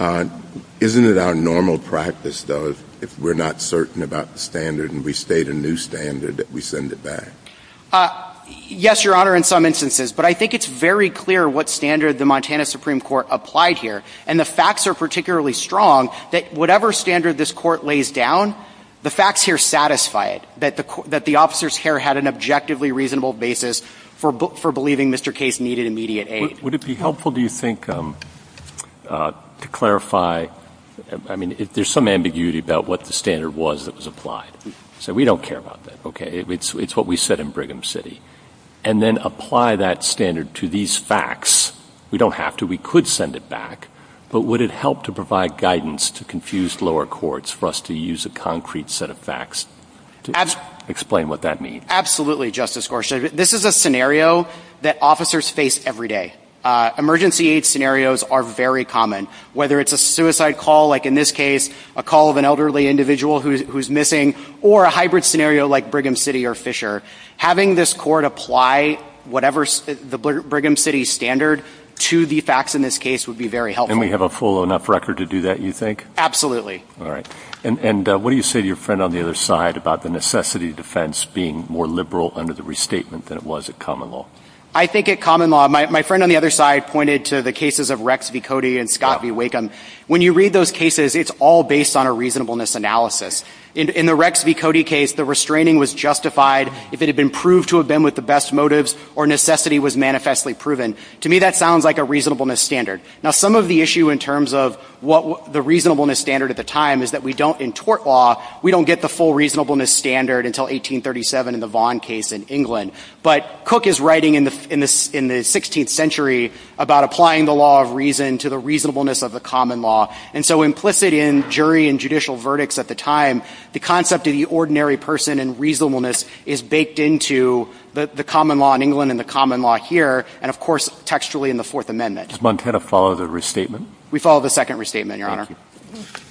Isn't it our normal practice, though, if we're not certain about the standard and we state a new standard, that we send it back? Yes, Your Honor, in some instances. But I think it's very clear what standard the Montana Supreme Court applied here. And the facts are particularly strong that whatever standard this Court lays down, the facts here satisfy it, that the officers' care had an objectively reasonable basis for believing Mr. Case needed immediate aid. Would it be helpful, do you think, to clarify? I mean, there's some ambiguity about what the standard was that was applied. So we don't care about that, okay? It's what we said in Brigham City. And then apply that standard to these facts. We don't have to. We could send it back. But would it help to provide guidance to confused lower courts for us to use a concrete set of facts to explain what that means? Absolutely, Justice Gorsuch. This is a scenario that officers face every day. Emergency aid scenarios are very common. Whether it's a suicide call, like in this case, a call of an elderly individual who's missing, or a hybrid scenario like Brigham City or Fisher. Having this Court apply whatever the Brigham City standard to the facts in this case would be very helpful. And we have a full enough record to do that, you think? Absolutely. All right. And what do you say to your friend on the other side about the necessity of defense being more liberal under the restatement than it was at common law? I think at common law, my friend on the other side pointed to the cases of Rex v. Cody and Scott v. Wakeham. When you read those cases, it's all based on a reasonableness analysis. In the Rex v. Cody case, the restraining was justified if it had been proved to have been with the best motives or necessity was manifestly proven. To me, that sounds like a reasonableness standard. Now, some of the issue in terms of the reasonableness standard at the time is that we don't, in tort law, we don't get the full reasonableness standard until 1837 in the Vaughn case in England. But Cook is writing in the 16th century about applying the law of reason to the reasonableness of the common law. And so implicit in jury and judicial verdicts at the time, the concept of the ordinary person and reasonableness is baked into the common law in England and the common law here, and, of course, textually in the Fourth Amendment. Does Montana follow the restatement? We follow the second restatement, Your Honor.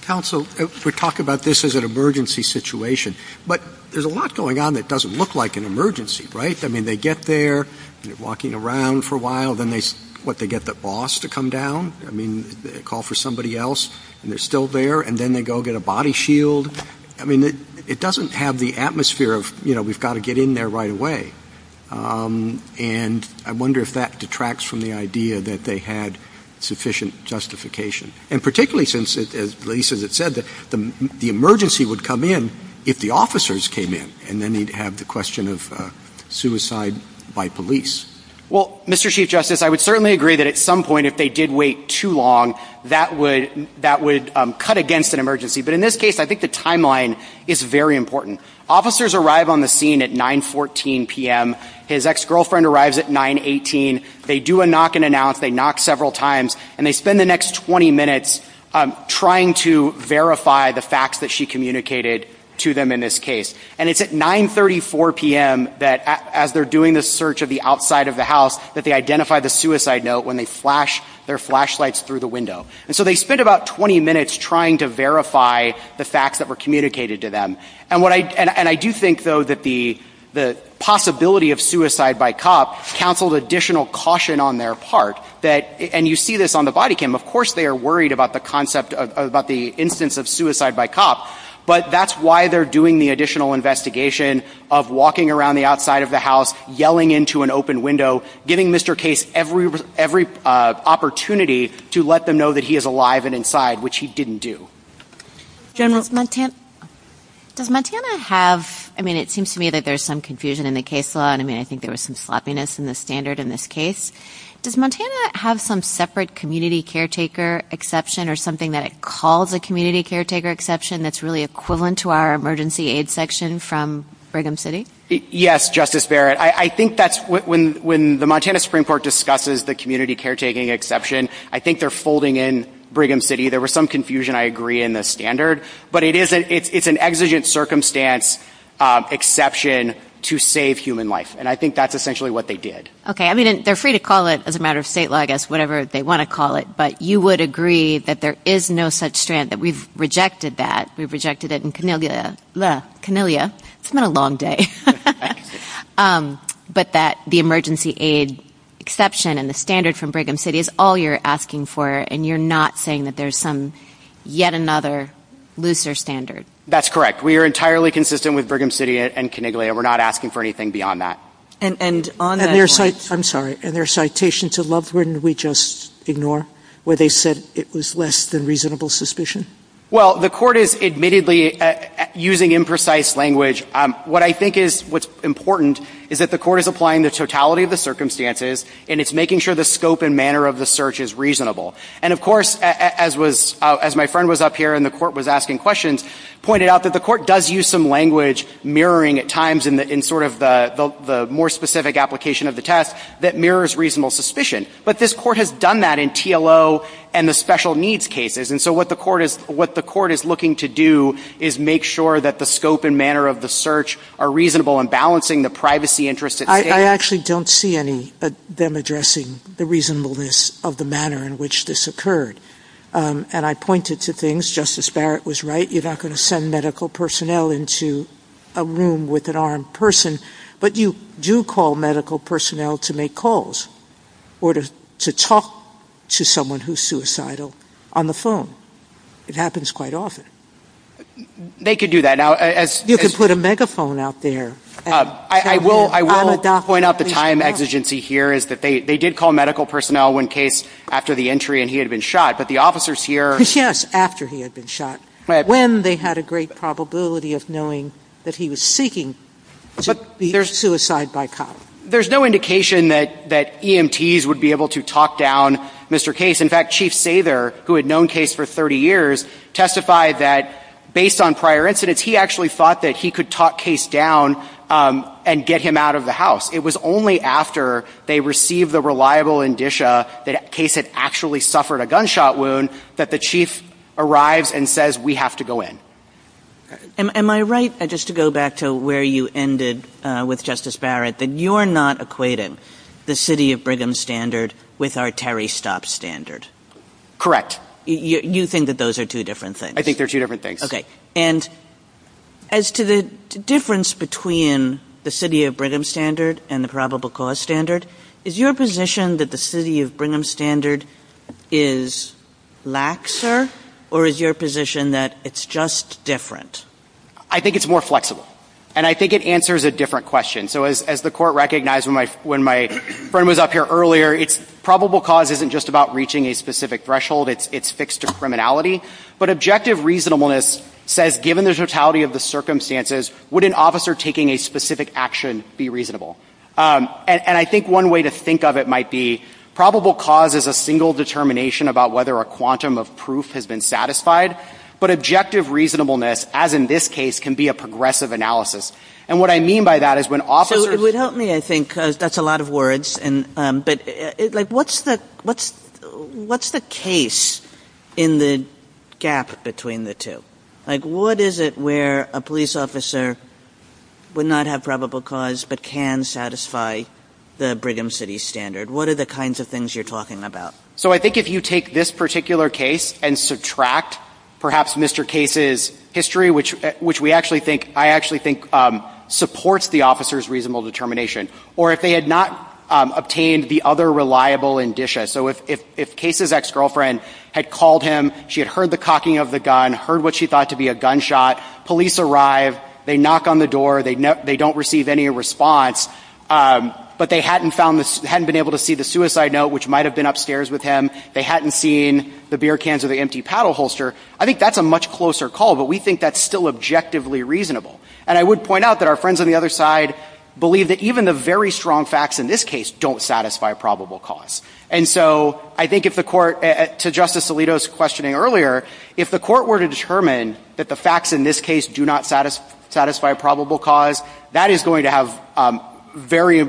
Counsel, we talk about this as an emergency situation, but there's a lot going on that doesn't look like an emergency, right? I mean, they get there, they're walking around for a while, then what, they get the boss to come down? I mean, they call for somebody else, and they're still there, and then they go get a body shield? I mean, it doesn't have the atmosphere of, you know, we've got to get in there right away. And I wonder if that detracts from the idea that they had sufficient justification. And particularly since, as Lisa has said, the emergency would come in if the officers came in, and then you'd have the question of suicide by police. Well, Mr. Chief Justice, I would certainly agree that at some point if they did wait too long, that would cut against an emergency. But in this case, I think the timeline is very important. Officers arrive on the scene at 9.14 p.m., his ex-girlfriend arrives at 9.18, they do a knock and announce, they knock several times, and they spend the next 20 minutes trying to verify the facts that she communicated to them in this case. And it's at 9.34 p.m. that, as they're doing the search of the outside of the house, that they identify the suicide note when they flash their flashlights through the window. And so they spent about 20 minutes trying to verify the facts that were communicated to them. And I do think, though, that the possibility of suicide by cop counseled additional caution on their part. And you see this on the body cam. Of course they are worried about the instance of suicide by cop, but that's why they're doing the additional investigation of walking around the outside of the house, yelling into an open window, giving Mr. Case every opportunity to let them know that he is alive and inside, which he didn't do. General, does Montana have... I mean, it seems to me that there's some confusion in the case law. I mean, I think there was some sloppiness in the standard in this case. Does Montana have some separate community caretaker exception or something that it calls a community caretaker exception that's really equivalent to our emergency aid section from Brigham City? Yes, Justice Barrett. I think that's when the Montana Supreme Court discusses the community caretaking exception, I think they're folding in Brigham City. There was some confusion, I agree, in the standard, but it's an exigent circumstance exception to save human life, and I think that's essentially what they did. Okay. I mean, they're free to call it as a matter of state law, I guess, whatever they want to call it, but you would agree that there is no such strand, that we've rejected that. We've rejected it in Camellia. It's been a long day. But that the emergency aid exception and the standard from Brigham City is all you're asking for, and you're not saying that there's some, yet another, looser standard. That's correct. We are entirely consistent with Brigham City and Caniglia. We're not asking for anything beyond that. And on the- I'm sorry. In their citation to Lovewood, did we just ignore where they said it was less than reasonable suspicion? Well, the court is admittedly using imprecise language. What I think is what's important is that the court is applying the totality of the circumstances, and it's making sure the scope and manner of the search is reasonable. And, of course, as my friend was up here and the court was asking questions, pointed out that the court does use some language mirroring at times in sort of the more specific application of the test that mirrors reasonable suspicion. But this court has done that in TLO and the special needs cases. And so what the court is looking to do is make sure that the scope and manner of the search are reasonable and balancing the privacy interests at hand. I actually don't see any of them addressing the reasonableness of the manner in which this occurred. And I pointed to things. Justice Barrett was right. You're not going to send medical personnel into a room with an armed person. But you do call medical personnel to make calls or to talk to someone who's suicidal on the phone. It happens quite often. They could do that. You could put a megaphone out there. I will point out the time exigency here is that they did call medical personnel when Case, after the entry, and he had been shot. But the officers here- Yes, after he had been shot. When they had a great probability of knowing that he was seeking to be their suicide bycatch. There's no indication that EMTs would be able to talk down Mr. Case. In fact, Chief Sather, who had known Case for 30 years, testified that, based on prior incidents, he actually thought that he could talk Case down and get him out of the house. It was only after they received the reliable indicia that Case had actually suffered a gunshot wound that the chief arrives and says, we have to go in. Am I right, just to go back to where you ended with Justice Barrett, that you're not equating the City of Brigham standard with our Terry Stops standard? Correct. You think that those are two different things? I think they're two different things. Okay. And as to the difference between the City of Brigham standard and the probable cause standard, is your position that the City of Brigham standard is laxer, or is your position that it's just different? I think it's more flexible. And I think it answers a different question. So as the Court recognized when my friend was up here earlier, probable cause isn't just about reaching a specific threshold, it's fixed to criminality. But objective reasonableness says, given the totality of the circumstances, would an officer taking a specific action be reasonable? And I think one way to think of it might be, probable cause is a single determination about whether a quantum of proof has been satisfied. But objective reasonableness, as in this case, can be a progressive analysis. And what I mean by that is when officers- So it would help me, I think, because that's a lot of words. But what's the case in the gap between the two? Like, what is it where a police officer would not have probable cause but can satisfy the Brigham City standard? What are the kinds of things you're talking about? So I think if you take this particular case and subtract perhaps Mr. Case's history, which I actually think supports the officer's reasonable determination, or if they had not obtained the other reliable indicia, so if Case's ex-girlfriend had called him, she had heard the cocking of the gun, heard what she thought to be a gunshot, police arrive, they knock on the door, they don't receive any response, but they hadn't been able to see the suicide note, which might have been upstairs with him, they hadn't seen the beer cans or the empty paddle holster, I think that's a much closer call, but we think that's still objectively reasonable. And I would point out that our friends on the other side believe that even the very strong facts in this case don't satisfy probable cause. And so I think if the court, to Justice Alito's questioning earlier, if the court were to determine that the facts in this case do not satisfy probable cause, that is going to have very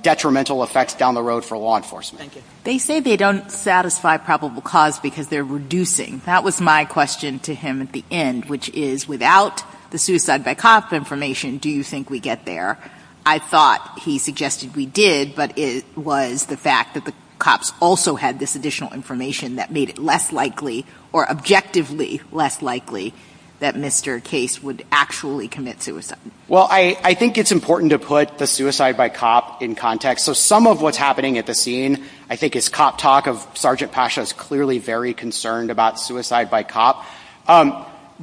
detrimental effects down the road for law enforcement. Thank you. They say they don't satisfy probable cause because they're reducing. That was my question to him at the end, which is without the suicide by cop information, do you think we get there? I thought he suggested we did, but it was the fact that the cops also had this additional information that made it less likely, or objectively less likely, that Mr. Case would actually commit suicide. Well, I think it's important to put the suicide by cop in context. So some of what's happening at the scene, I think his cop talk of Sergeant Pasha is clearly very concerned about suicide by cop.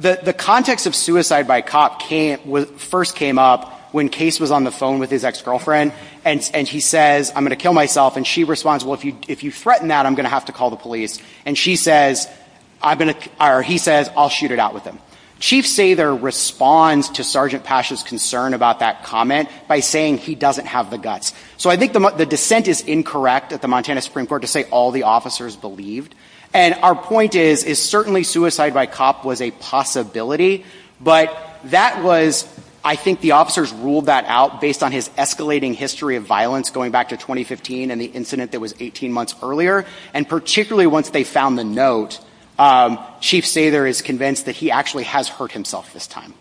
The context of suicide by cop first came up when Case was on the phone with his ex-girlfriend, and he says, I'm going to kill myself. And she responds, well, if you threaten that, I'm going to have to call the police. And she says, or he says, I'll shoot it out with him. Chief Sather responds to Sergeant Pasha's concern about that comment by saying he doesn't have the guts. So I think the dissent is incorrect at the Montana Supreme Court to say all the officers believed. And our point is, is certainly suicide by cop was a possibility, but that was, I think the officers ruled that out based on his escalating history of violence going back to 2015 and the incident that was 18 months earlier. And particularly once they found the note, Chief Sather is convinced that he actually has hurt himself this time.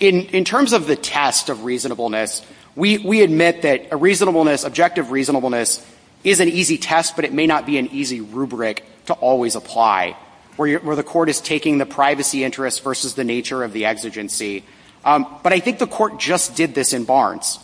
In terms of the test of reasonableness, we admit that a reasonableness, objective reasonableness, is an easy test, but it may not be an easy rubric to always apply, where the court is taking the privacy interest versus the nature of the exigency. But I think the court just did this in Barnes.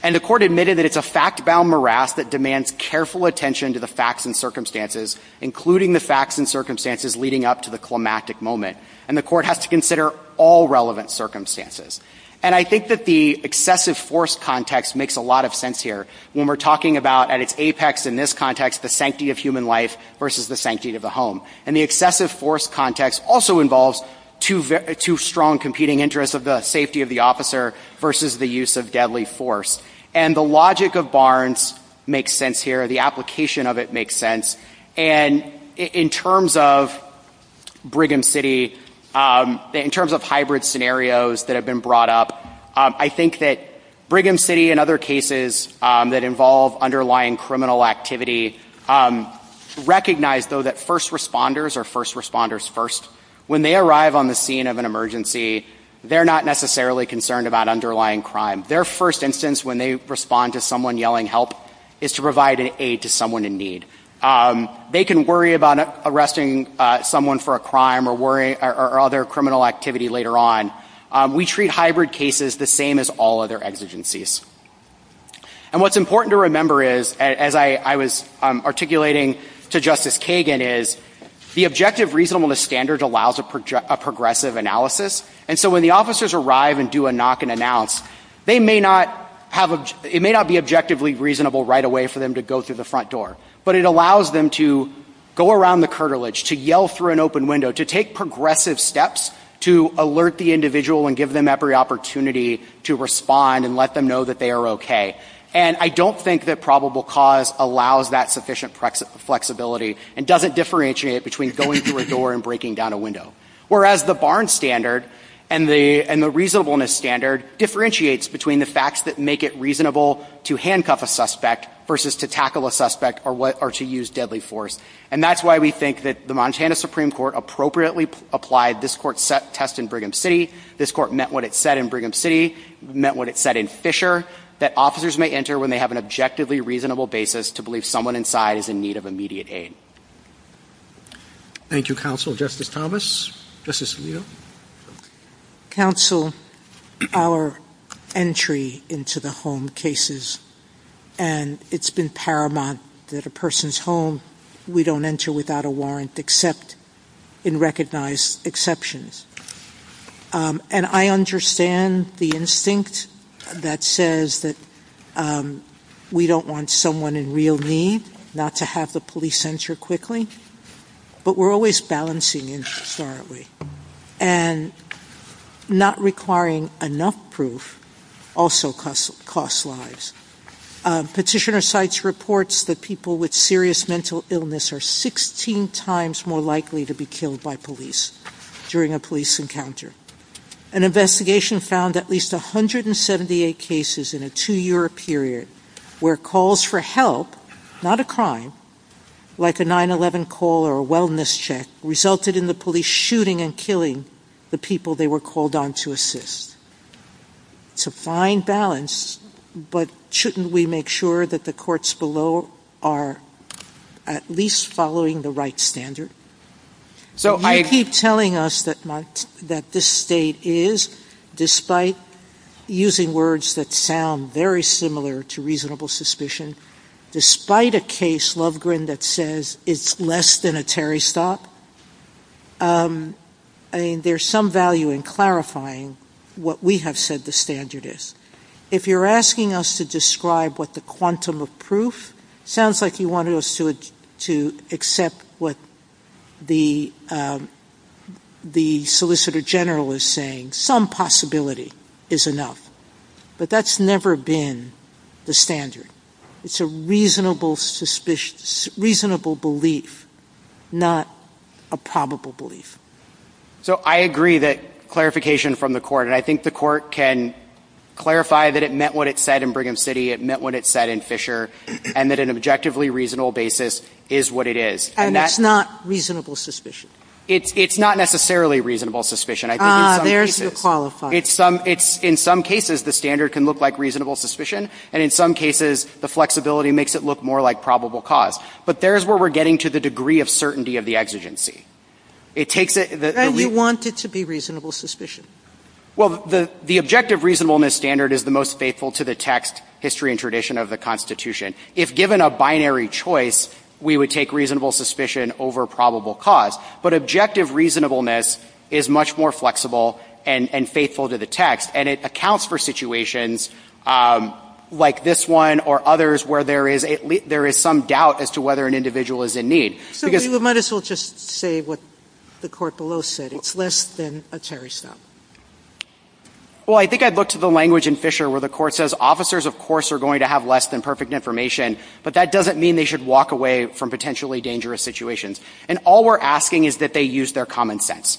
And the court admitted that it's a fact-bound morass that demands careful attention to the facts and circumstances, including the facts and circumstances leading up to the climactic moment. And the court has to consider all relevant circumstances. And I think that the excessive force context makes a lot of sense here. When we're talking about, at its apex in this context, the sanctity of human life versus the sanctity of the home. And the excessive force context also involves two strong competing interests of the safety of the officer versus the use of deadly force. And the logic of Barnes makes sense here. The application of it makes sense. And in terms of Brigham City, in terms of hybrid scenarios that have been brought up, I think that Brigham City and other cases that involve underlying criminal activity recognize, though, that first responders are first responders first. When they arrive on the scene of an emergency, they're not necessarily concerned about underlying crime. Their first instance when they respond to someone yelling help is to provide aid to someone in need. They can worry about arresting someone for a crime or other criminal activity later on. We treat hybrid cases the same as all other exigencies. And what's important to remember is, as I was articulating to Justice Kagan, is the objective reasonableness standard allows a progressive analysis. And so when the officers arrive and do a knock and announce, it may not be objectively reasonable right away for them to go through the front door. But it allows them to go around the curtilage, to yell through an open window, to take progressive steps to alert the individual and give them every opportunity to respond and let them know that they are okay. And I don't think that probable cause allows that sufficient flexibility and doesn't differentiate between going through a door and breaking down a window. Whereas the Barnes standard and the reasonableness standard differentiates between the facts that make it reasonable to handcuff a suspect versus to tackle a suspect or to use deadly force. And that's why we think that the Montana Supreme Court appropriately applied this court's test in Brigham City. This court met what it said in Brigham City, met what it said in Fisher, that officers may enter when they have an objectively reasonable basis to believe someone inside is in need of immediate aid. Thank you, Counsel. Justice Thomas? Justice Alito? Counsel, our entry into the home cases, and it's been paramount that a person's home, we don't enter without a warrant except in recognized exceptions. And I understand the instinct that says that we don't want someone in real need, not to have the police enter quickly, but we're always balancing interest, aren't we? And not requiring enough proof also costs lives. Petitioner cites reports that people with serious mental illness are 16 times more likely to be killed by police during a police encounter. An investigation found at least 178 cases in a two-year period where calls for help, not a crime, like a 9-11 call or a wellness check, resulted in the police shooting and killing the people they were called on to assist. To find balance, but shouldn't we make sure that the courts below are at least following the right standard? You keep telling us that this state is, despite using words that sound very similar to reasonable suspicion, despite a case, Lovegrin, that says it's less than a Terry stop, there's some value in clarifying what we have said the standard is. If you're asking us to describe what the quantum of proof, it sounds like you wanted us to accept what the solicitor general is saying, some possibility is enough, but that's never been the standard. It's a reasonable belief, not a probable belief. So I agree that clarification from the court, and I think the court can clarify that it meant what it said in Brigham City, it meant what it said in Fisher, and that an objectively reasonable basis is what it is. And that's not reasonable suspicion. It's not necessarily reasonable suspicion. Ah, there's your qualifier. In some cases the standard can look like reasonable suspicion, and in some cases the flexibility makes it look more like probable cause. But there's where we're getting to the degree of certainty of the exigency. And you want it to be reasonable suspicion. Well, the objective reasonableness standard is the most faithful to the text, history, and tradition of the Constitution. If given a binary choice, we would take reasonable suspicion over probable cause. But objective reasonableness is much more flexible and faithful to the text, and it accounts for situations like this one or others where there is some doubt as to whether an individual is in need. So you might as well just say what the court below said. It's less than a Terry stop. Well, I think I'd look to the language in Fisher where the court says, officers, of course, are going to have less than perfect information, but that doesn't mean they should walk away from potentially dangerous situations. And all we're asking is that they use their common sense.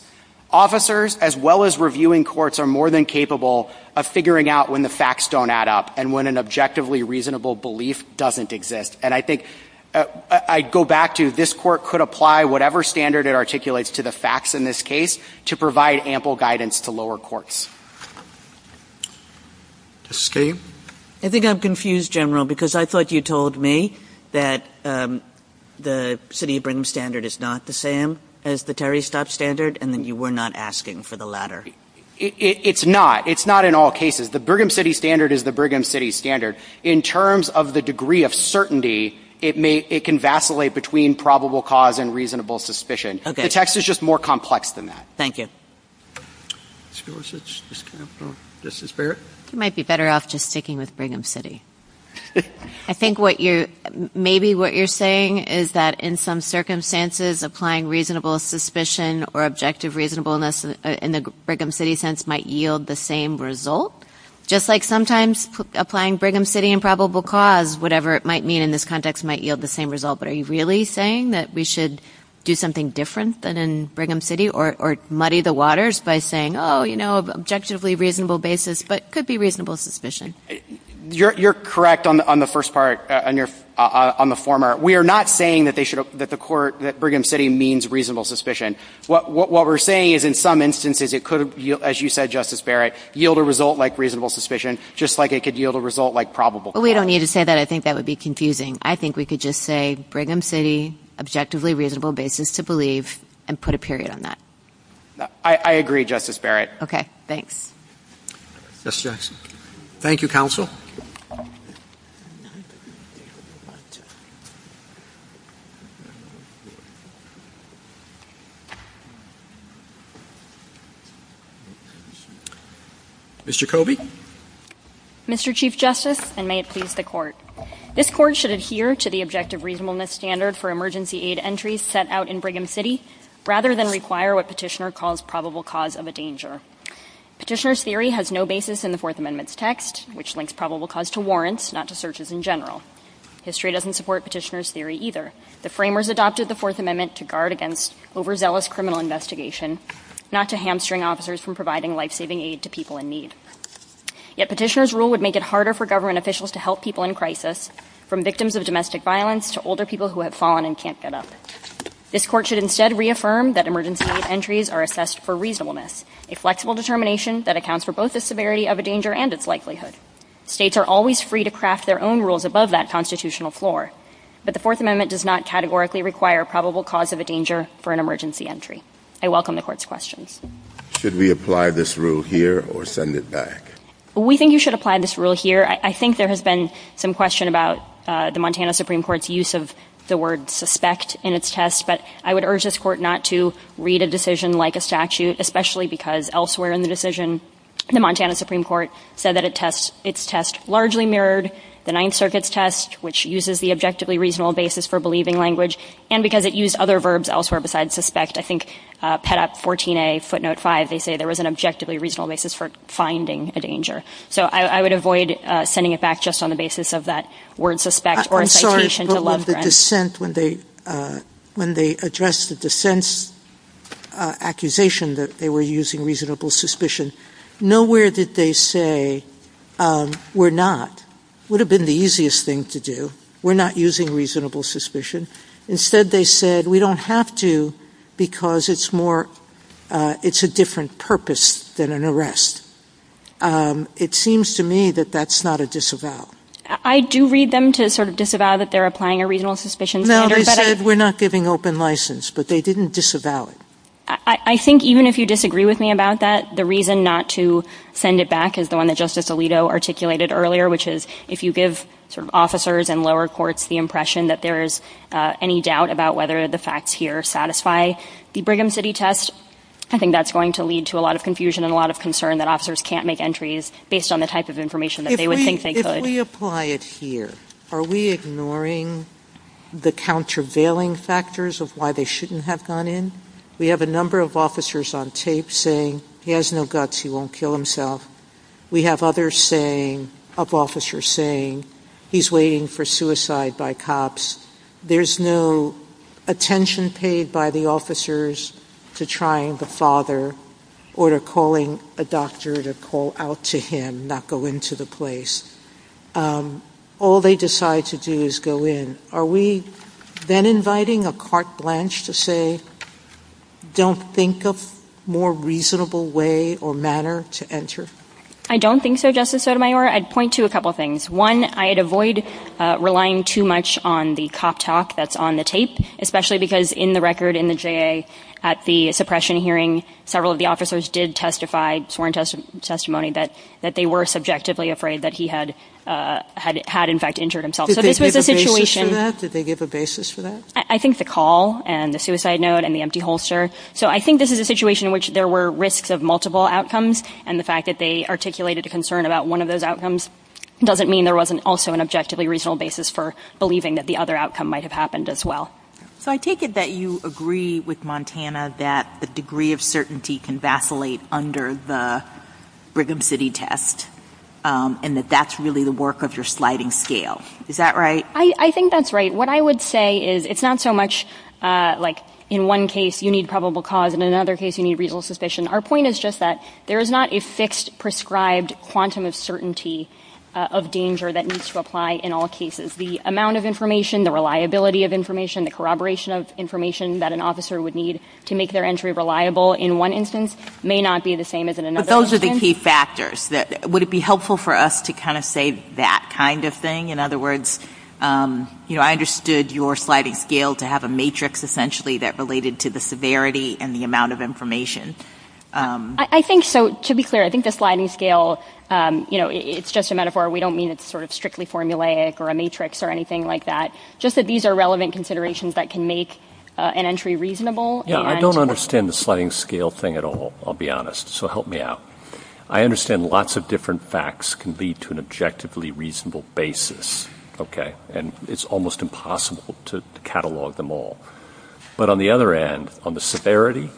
Officers, as well as reviewing courts, are more than capable of figuring out when the facts don't add up and when an objectively reasonable belief doesn't exist. And I think I'd go back to this court could apply whatever standard it articulates to the facts in this case to provide ample guidance to lower courts. Ms. Skate? I think I'm confused, General, because I thought you told me that the city of Brigham standard is not the same as the Terry stop standard, and that you were not asking for the latter. It's not. It's not in all cases. The Brigham city standard is the Brigham city standard. In terms of the degree of certainty, it can vacillate between probable cause and reasonable suspicion. The text is just more complex than that. Thank you. Ms. Gorsuch, is this fair? You might be better off just sticking with Brigham city. I think maybe what you're saying is that in some circumstances, applying reasonable suspicion or objective reasonableness in the Brigham city sense might yield the same result. Just like sometimes applying Brigham city and probable cause, whatever it might mean in this context, might yield the same result. But are you really saying that we should do something different than in Brigham city or muddy the waters by saying, oh, you know, objectively reasonable basis, but could be reasonable suspicion? You're correct on the first part, on the former. We are not saying that Brigham city means reasonable suspicion. What we're saying is in some instances it could, as you said, Justice Barrett, yield a result like reasonable suspicion, just like it could yield a result like probable cause. We don't need to say that. I think that would be confusing. I think we could just say Brigham city, objectively reasonable basis to believe, and put a period on that. I agree, Justice Barrett. Okay, thanks. Thank you, counsel. Mr. Covey. Mr. Chief Justice, and may it please the court. This court should adhere to the objective reasonableness standard for emergency aid entries set out in Brigham city, rather than require what petitioner calls probable cause of a danger. Petitioner's theory has no basis in the fourth amendment's text, which links probable cause to warrants, not to searches in general. History doesn't support petitioner's theory either. The framers adopted the fourth amendment to guard against overzealous criminal investigation, not to hamstring officers from providing life-saving aid to people in need. Yet petitioner's rule would make it harder for government officials to help people in crisis, from victims of domestic violence to older people who have fallen and can't get up. This court should instead reaffirm that emergency aid entries are assessed for reasonableness, a flexible determination that accounts for both the severity of a danger and its likelihood. States are always free to craft their own rules above that constitutional floor, but the fourth amendment does not categorically require probable cause of a danger for an emergency entry. I welcome the court's questions. Should we apply this rule here or send it back? We think you should apply this rule here. I think there has been some question about the Montana Supreme Court's use of the word suspect in its test, but I would urge this court not to read a decision like a statute, especially because elsewhere in the decision the Montana Supreme Court said that its test largely mirrored the Ninth Circuit's test, which uses the objectively reasonable basis for believing language, and because it used other verbs elsewhere besides suspect. I think Pet op 14a footnote 5, they say there was an objectively reasonable basis for finding a danger. So I would avoid sending it back just on the basis of that word suspect. I'm sorry, but when they addressed the dissent's accusation that they were using reasonable suspicion, nowhere did they say we're not. It would have been the easiest thing to do. We're not using reasonable suspicion. Instead they said we don't have to because it's a different purpose than an arrest. It seems to me that that's not a disavow. I do read them to sort of disavow that they're applying a reasonable suspicion standard. No, they said we're not giving open license, but they didn't disavow it. I think even if you disagree with me about that, the reason not to send it back is the one that Justice Alito articulated earlier, which is if you give officers and lower courts the impression that there is any doubt about whether the facts here satisfy the Brigham City test, I think that's going to lead to a lot of confusion and a lot of concern that officers can't make entries based on the type of information that they would think they could. If we apply it here, are we ignoring the countervailing factors of why they shouldn't have gone in? We have a number of officers on tape saying he has no guts, he won't kill himself. We have other officers saying he's waiting for suicide by cops. There's no attention paid by the officers to trying the father or to calling a doctor to call out to him, not go into the place. All they decide to do is go in. Are we then inviting a carte blanche to say, don't think of a more reasonable way or manner to enter? I don't think so, Justice Sotomayor. I'd point to a couple things. One, I'd avoid relying too much on the cop talk that's on the tape, especially because in the record in the J.A. at the suppression hearing, several of the officers did testify, sworn testimony, that they were subjectively afraid that he had in fact injured himself. Did they give a basis for that? I think the call and the suicide note and the empty holster. So I think this is a situation in which there were risks of multiple outcomes, and the fact that they articulated a concern about one of those outcomes doesn't mean there wasn't also an objectively reasonable basis for believing that the other outcome might have happened as well. So I take it that you agree with Montana that the degree of certainty can vacillate under the Brigham City test, and that that's really the work of your sliding scale. Is that right? I think that's right. What I would say is it's not so much like in one case you need probable cause and in another case you need reasonable suspicion. Our point is just that there is not a fixed prescribed quantum of certainty of danger that needs to apply in all cases. The amount of information, the reliability of information, the corroboration of information that an officer would need to make their entry reliable in one instance may not be the same as in another instance. But those are the key factors. Would it be helpful for us to kind of say that kind of thing? In other words, I understood your sliding scale to have a matrix essentially that related to the severity and the amount of information. I think so. To be clear, I think the sliding scale, you know, it's just a metaphor. We don't mean it's sort of strictly formulaic or a matrix or anything like that, just that these are relevant considerations that can make an entry reasonable. Yeah, I don't understand the sliding scale thing at all, I'll be honest, so help me out. I understand lots of different facts can lead to an objectively reasonable basis, okay, and it's almost impossible to catalog them all. But on the other hand, on the severity,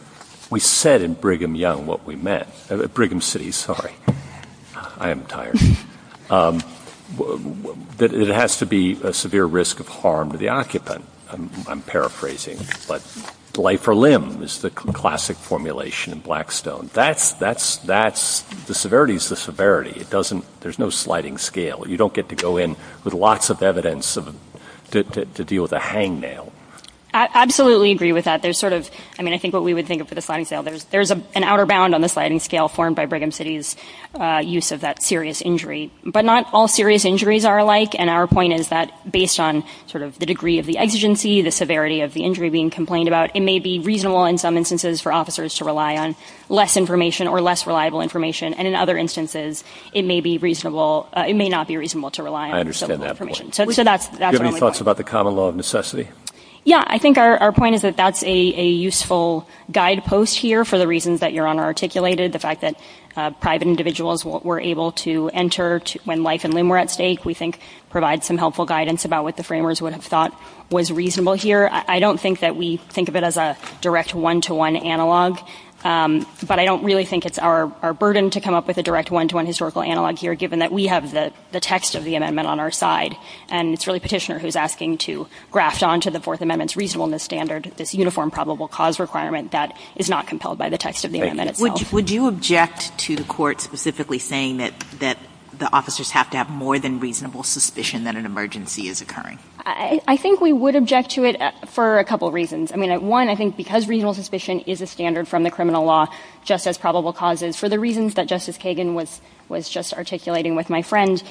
we said in Brigham Young what we meant, Brigham City, sorry, I am tired, that it has to be a severe risk of harm to the occupant, I'm paraphrasing, but life or limb is the classic formulation in Blackstone. The severity is the severity. There's no sliding scale. You don't get to go in with lots of evidence to deal with a hangnail. I absolutely agree with that. There's sort of, I mean, I think what we would think of for the sliding scale, there's an outer bound on the sliding scale formed by Brigham City's use of that serious injury. But not all serious injuries are alike, and our point is that based on sort of the degree of the exigency, the severity of the injury being complained about, it may be reasonable in some instances for officers to rely on less information or less reliable information, and in other instances it may be reasonable, it may not be reasonable to rely on. I understand that point. Do you have any thoughts about the common law of necessity? Yeah, I think our point is that that's a useful guidepost here for the reasons that Your Honor articulated, the fact that private individuals were able to enter when life and limb were at stake, we think provides some helpful guidance about what the framers would have thought was reasonable here. I don't think that we think of it as a direct one-to-one analog, but I don't really think it's our burden to come up with a direct one-to-one historical analog here, given that we have the text of the amendment on our side, and it's really Petitioner who's asking to graft onto the Fourth Amendment's reasonableness standard this uniform probable cause requirement that is not compelled by the text of the amendment itself. Would you object to the court specifically saying that the officers have to have more than reasonable suspicion that an emergency is occurring? I think we would object to it for a couple reasons. I mean, one, I think because reasonable suspicion is a standard from the criminal law, just as probable cause is, for the reasons that Justice Kagan was just articulating with my friend,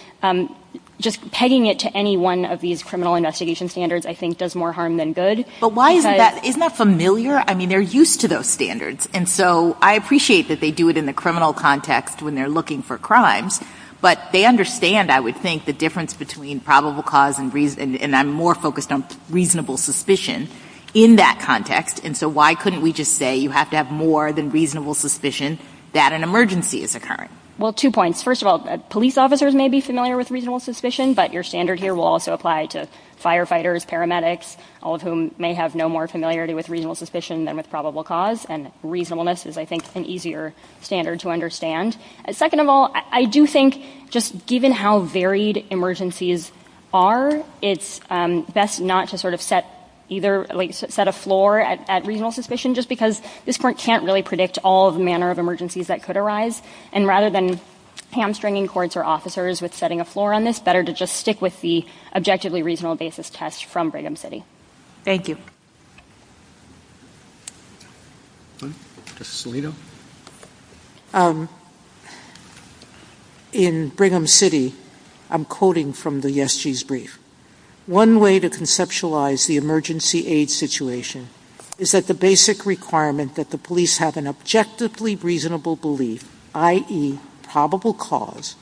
just pegging it to any one of these criminal investigation standards I think does more harm than good. But why is that? Isn't that familiar? I mean, they're used to those standards, and so I appreciate that they do it in the criminal context when they're looking for crimes, but they understand, I would think, the difference between probable cause and I'm more focused on reasonable suspicion in that context, and so why couldn't we just say you have to have more than reasonable suspicion that an emergency is occurring? Well, two points. First of all, police officers may be familiar with reasonable suspicion, but your standard here will also apply to firefighters, paramedics, all of whom may have no more familiarity with reasonable suspicion than with probable cause, and reasonableness is, I think, an easier standard to understand. Second of all, I do think just given how varied emergencies are, it's best not to sort of set a floor at reasonable suspicion just because this court can't really predict all the manner of emergencies that could arise, and rather than hamstringing courts or officers with setting a floor on this, better to just stick with the objectively reasonable basis test from Brigham City. Thank you. Justice Alito? In Brigham City, I'm quoting from the ESG's brief. One way to conceptualize the emergency aid situation is that the basic requirement that the police have an objectively reasonable belief, i.e., probable cause,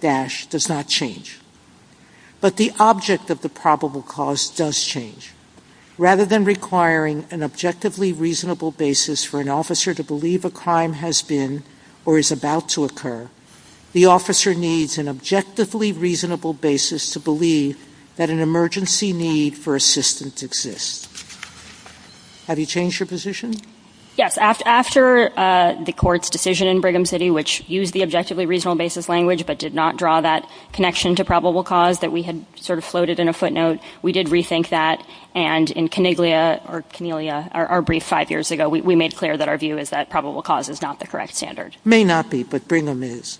dash, does not change. But the object of the probable cause does change. Rather than requiring an objectively reasonable basis for an officer to believe a cause, no matter where the crime has been or is about to occur, the officer needs an objectively reasonable basis to believe that an emergency need for assistance exists. Have you changed your position? Yes. After the court's decision in Brigham City, which used the objectively reasonable basis language but did not draw that connection to probable cause that we had sort of floated in a footnote, we did rethink that, and in Coniglia, or Coniglia, our brief five years ago, we made clear that our view is that probable cause is not the correct standard. May not be, but Brigham is.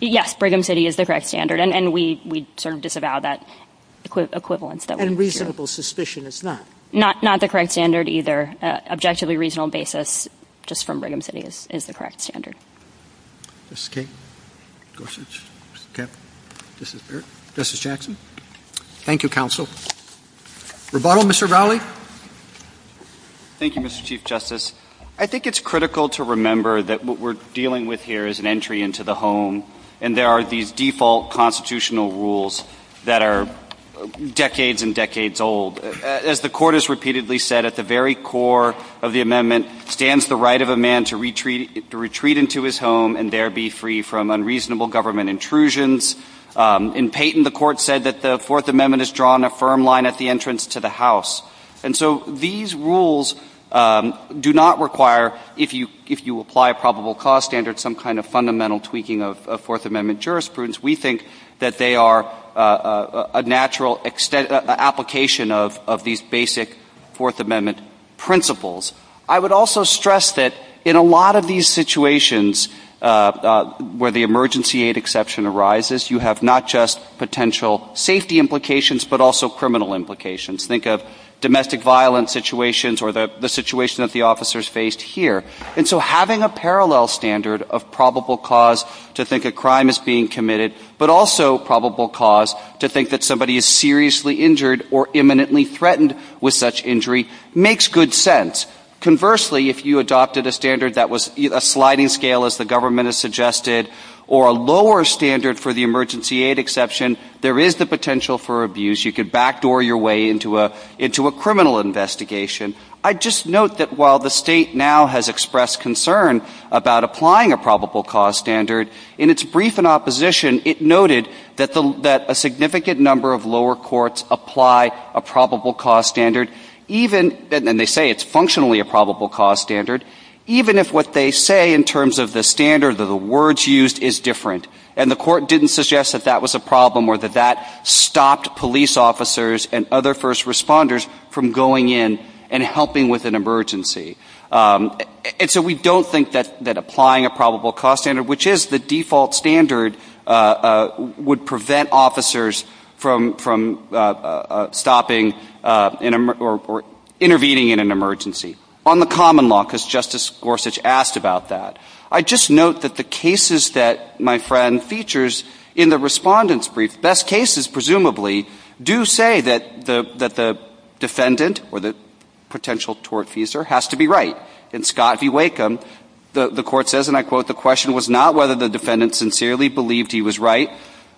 Yes, Brigham City is the correct standard, and we sort of disavow that equivalence. And reasonable suspicion is not? Not the correct standard either. Objectively reasonable basis, just from Brigham City, is the correct standard. Justice Jackson? Thank you, counsel. Rebuttal, Mr. Rowley? Thank you, Mr. Chief Justice. I think it's critical to remember that what we're dealing with here is an entry into the home, and there are these default constitutional rules that are decades and decades old. As the Court has repeatedly said, at the very core of the amendment stands the right of a man to retreat into his home and there be free from unreasonable government intrusions. In Payton, the Court said that the Fourth Amendment has drawn a firm line at the entrance to the house. And so these rules do not require, if you apply a probable cause standard, some kind of fundamental tweaking of Fourth Amendment jurisprudence. We think that they are a natural application of these basic Fourth Amendment principles. I would also stress that in a lot of these situations where the emergency aid exception arises, you have not just potential safety implications, but also criminal implications. Think of domestic violence situations or the situation that the officers faced here. And so having a parallel standard of probable cause to think a crime is being committed, but also probable cause to think that somebody is seriously injured or imminently threatened with such injury makes good sense. Conversely, if you adopted a standard that was a sliding scale, as the government has suggested, or a lower standard for the emergency aid exception, there is the potential for abuse. You could backdoor your way into a criminal investigation. I'd just note that while the state now has expressed concern about applying a probable cause standard, in its brief in opposition, it noted that a significant number of lower courts apply a probable cause standard, and they say it's functionally a probable cause standard, even if what they say in terms of the standard or the words used is different. And the court didn't suggest that that was a problem or that that stopped police officers and other first responders from going in and helping with an emergency. And so we don't think that applying a probable cause standard, which is the default standard, would prevent officers from stopping or intervening in an emergency on the common law, because Justice Gorsuch asked about that. I'd just note that the cases that my friend features in the respondent's brief, best cases presumably, do say that the defendant, or the potential tortfeasor, has to be right. In Scott v. Wakeham, the court says, and I quote, the question was not whether the defendant sincerely believed he was right,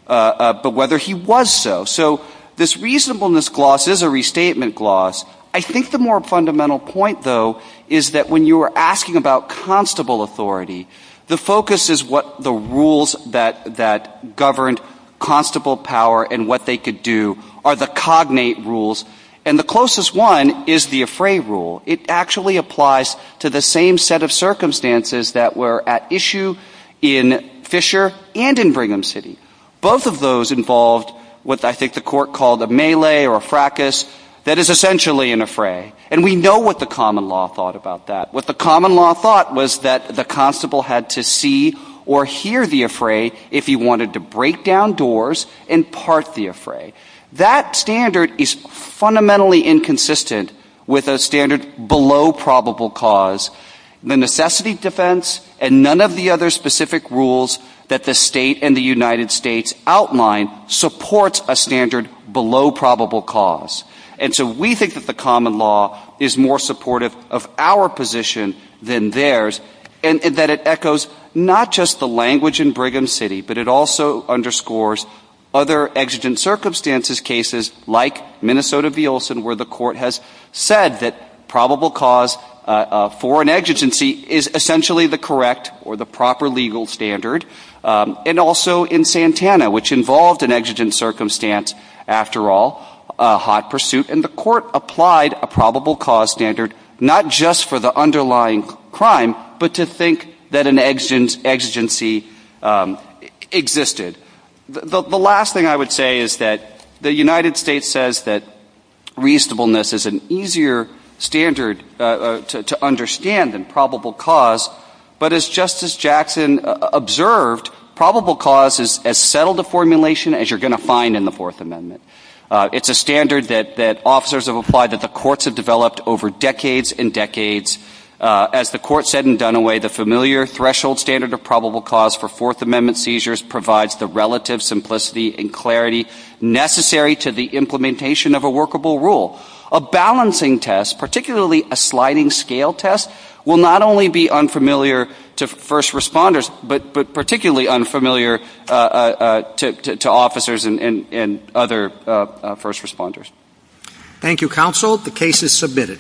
but whether he was so. So this reasonableness gloss is a restatement gloss. I think the more fundamental point, though, is that when you are asking about constable authority, the focus is what the rules that govern constable power and what they could do are the cognate rules, and the closest one is the affray rule. It actually applies to the same set of circumstances that were at issue in Fisher and in Brigham City. Both of those involved what I think the court called a melee or a fracas that is essentially an affray. And we know what the common law thought about that. What the common law thought was that the constable had to see or hear the affray if he wanted to break down doors and part the affray. That standard is fundamentally inconsistent with a standard below probable cause. The necessity defense and none of the other specific rules that the state and the United States outline supports a standard below probable cause. And so we think that the common law is more supportive of our position than theirs and that it echoes not just the language in Brigham City, but it also underscores other exigent circumstances cases like Minnesota v. Olson where the court has said that probable cause for an exigency is essentially the correct or the proper legal standard, and also in Santana, which involved an exigent circumstance after all, a hot pursuit, and the court applied a probable cause standard not just for the underlying crime, but to think that an exigency existed. The last thing I would say is that the United States says that reasonableness is an easier standard to understand than probable cause, but as Justice Jackson observed, probable cause is as settled a formulation as you're going to find in the Fourth Amendment. It's a standard that officers have applied that the courts have developed over decades and decades. As the court said in Dunaway, the familiar threshold standard of probable cause for Fourth Amendment seizures provides the relative simplicity and clarity necessary to the implementation of a workable rule. A balancing test, particularly a sliding scale test, will not only be unfamiliar to first responders, but particularly unfamiliar to officers and other first responders. Thank you, counsel. The case is submitted.